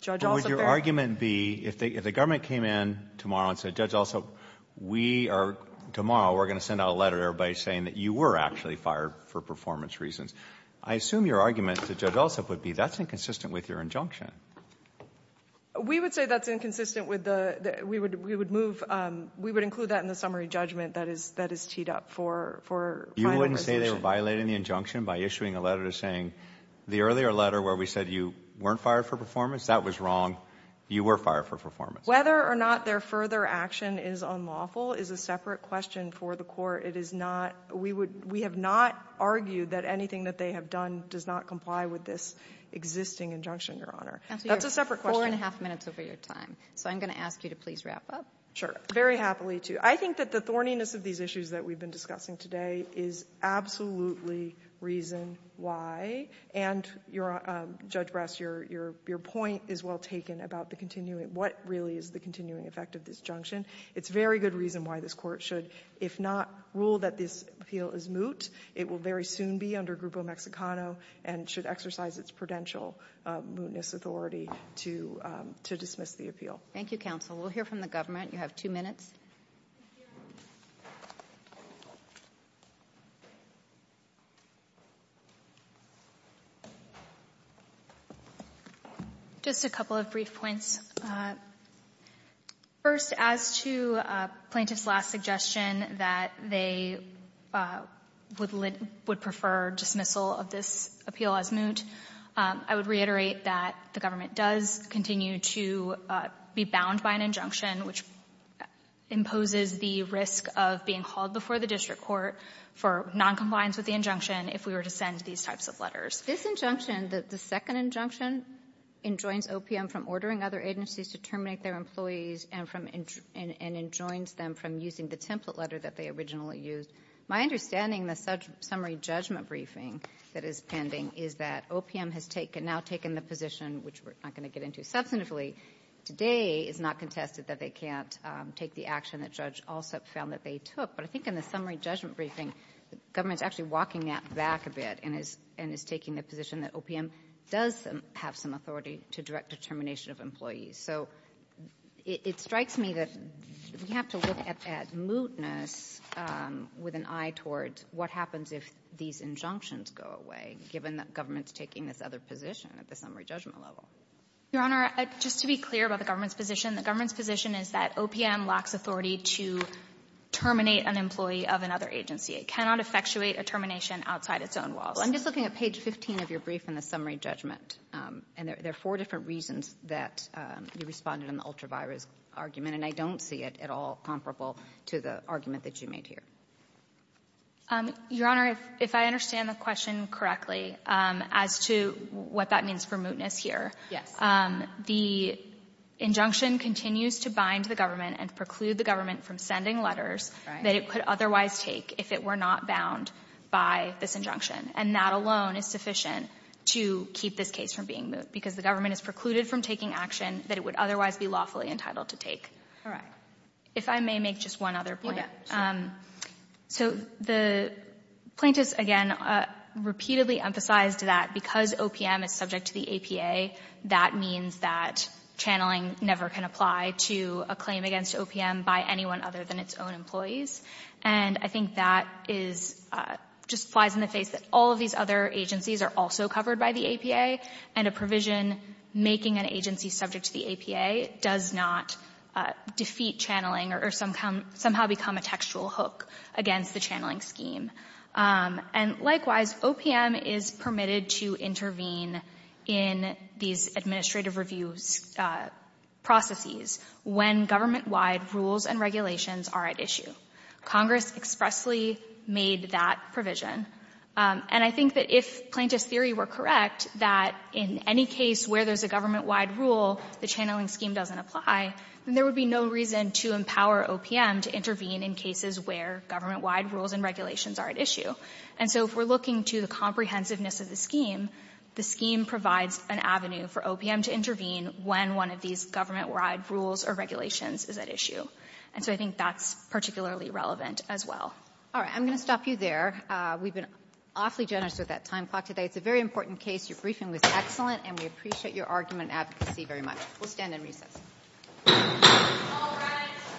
Judge Alsop. But would your argument be, if the government came in tomorrow and said, Judge Alsop, we are — tomorrow we're going to send out a letter to everybody saying that you were actually fired for performance reasons, I assume your argument to Judge Alsop would be, that's inconsistent with your injunction. We would say that's inconsistent with the — we would move — we would include that in the summary judgment that is — that is teed up for final resolution. You wouldn't say they were violating the injunction by issuing a letter to saying, the earlier letter where we said you weren't fired for performance, that was wrong. You were fired for performance. Whether or not their further action is unlawful is a separate question for the Court. It is not — we would — we have not argued that anything that they have done does not comply with this existing injunction, Your Honor. That's a separate question. Counsel, you have four and a half minutes over your time. So I'm going to ask you to please wrap up. Sure. Very happily to. I think that the thorniness of these issues that we've been discussing today is absolutely reason why, and you're — Judge Brass, your — your point is well taken about the continuing — what really is the continuing effect of this injunction. It's very good reason why this Court should, if not rule that this appeal is moot, it will very soon be under Grupo Mexicano and should exercise its prudential mootness authority to — to dismiss the appeal. Thank you, counsel. We'll hear from the government. You have two minutes. Just a couple of brief points. First, as to plaintiff's last suggestion that they would prefer dismissal of this appeal as moot, I would reiterate that the government does continue to be bound by an injunction which imposes the risk of being called before the district court for noncompliance with the injunction if we were to send these types of letters. This injunction, the second injunction, enjoins OPM from ordering other agencies to terminate their employees and from — and enjoins them from using the template letter that they originally used. My understanding in the summary judgment briefing that is pending is that OPM has taken — now taken the position, which we're not going to get into substantively today, is not contested that they can't take the action that Judge Alsup found that they took, but I think in the summary judgment briefing, the government's actually walking that back a bit and is — and is taking the position that OPM does have some authority to direct the termination of employees. So it — it strikes me that we have to look at that mootness with an eye towards what happens if these injunctions go away, given that government's taking this other position at the summary judgment level. Your Honor, just to be clear about the government's position, the government's position is that OPM lacks authority to terminate an employee of another agency. It cannot effectuate a termination outside its own walls. Well, I'm just looking at page 15 of your brief in the summary judgment, and there are four different reasons that you responded in the ultra-virus argument, and I don't see it at all comparable to the argument that you made here. Your Honor, if I understand the question correctly, as to what that means for mootness here, the injunction continues to bind the government and preclude the government from sending letters that it could otherwise take if it were not bound by this injunction. And that alone is sufficient to keep this case from being moot, because the government is precluded from taking action that it would otherwise be lawfully entitled to take. All right. If I may make just one other point. You bet. So the plaintiffs, again, repeatedly emphasized that because OPM is subject to the APA, that means that channeling never can apply to a claim against OPM by anyone other than its own employees. And I think that is — just flies in the face that all of these other agencies are also covered by the APA, and a provision making an agency subject to the APA does not defeat channeling or somehow become a textual hook against the channeling scheme. And likewise, OPM is permitted to intervene in these administrative review processes when government-wide rules and regulations are at issue. Congress expressly made that provision. And I think that if plaintiffs' theory were correct, that in any case where there's a government-wide rule, the channeling scheme doesn't apply, then there would be no reason to empower OPM to intervene in cases where government-wide rules and regulations are at issue. And so if we're looking to the comprehensiveness of the scheme, the scheme provides an avenue for OPM to intervene when one of these government-wide rules or regulations is at issue. And so I think that's particularly relevant as well. All right. I'm going to stop you there. We've been awfully generous with that time clock today. It's a very important case. Your briefing was excellent, and we appreciate your argument and advocacy very much. We'll stand and recess. All rise.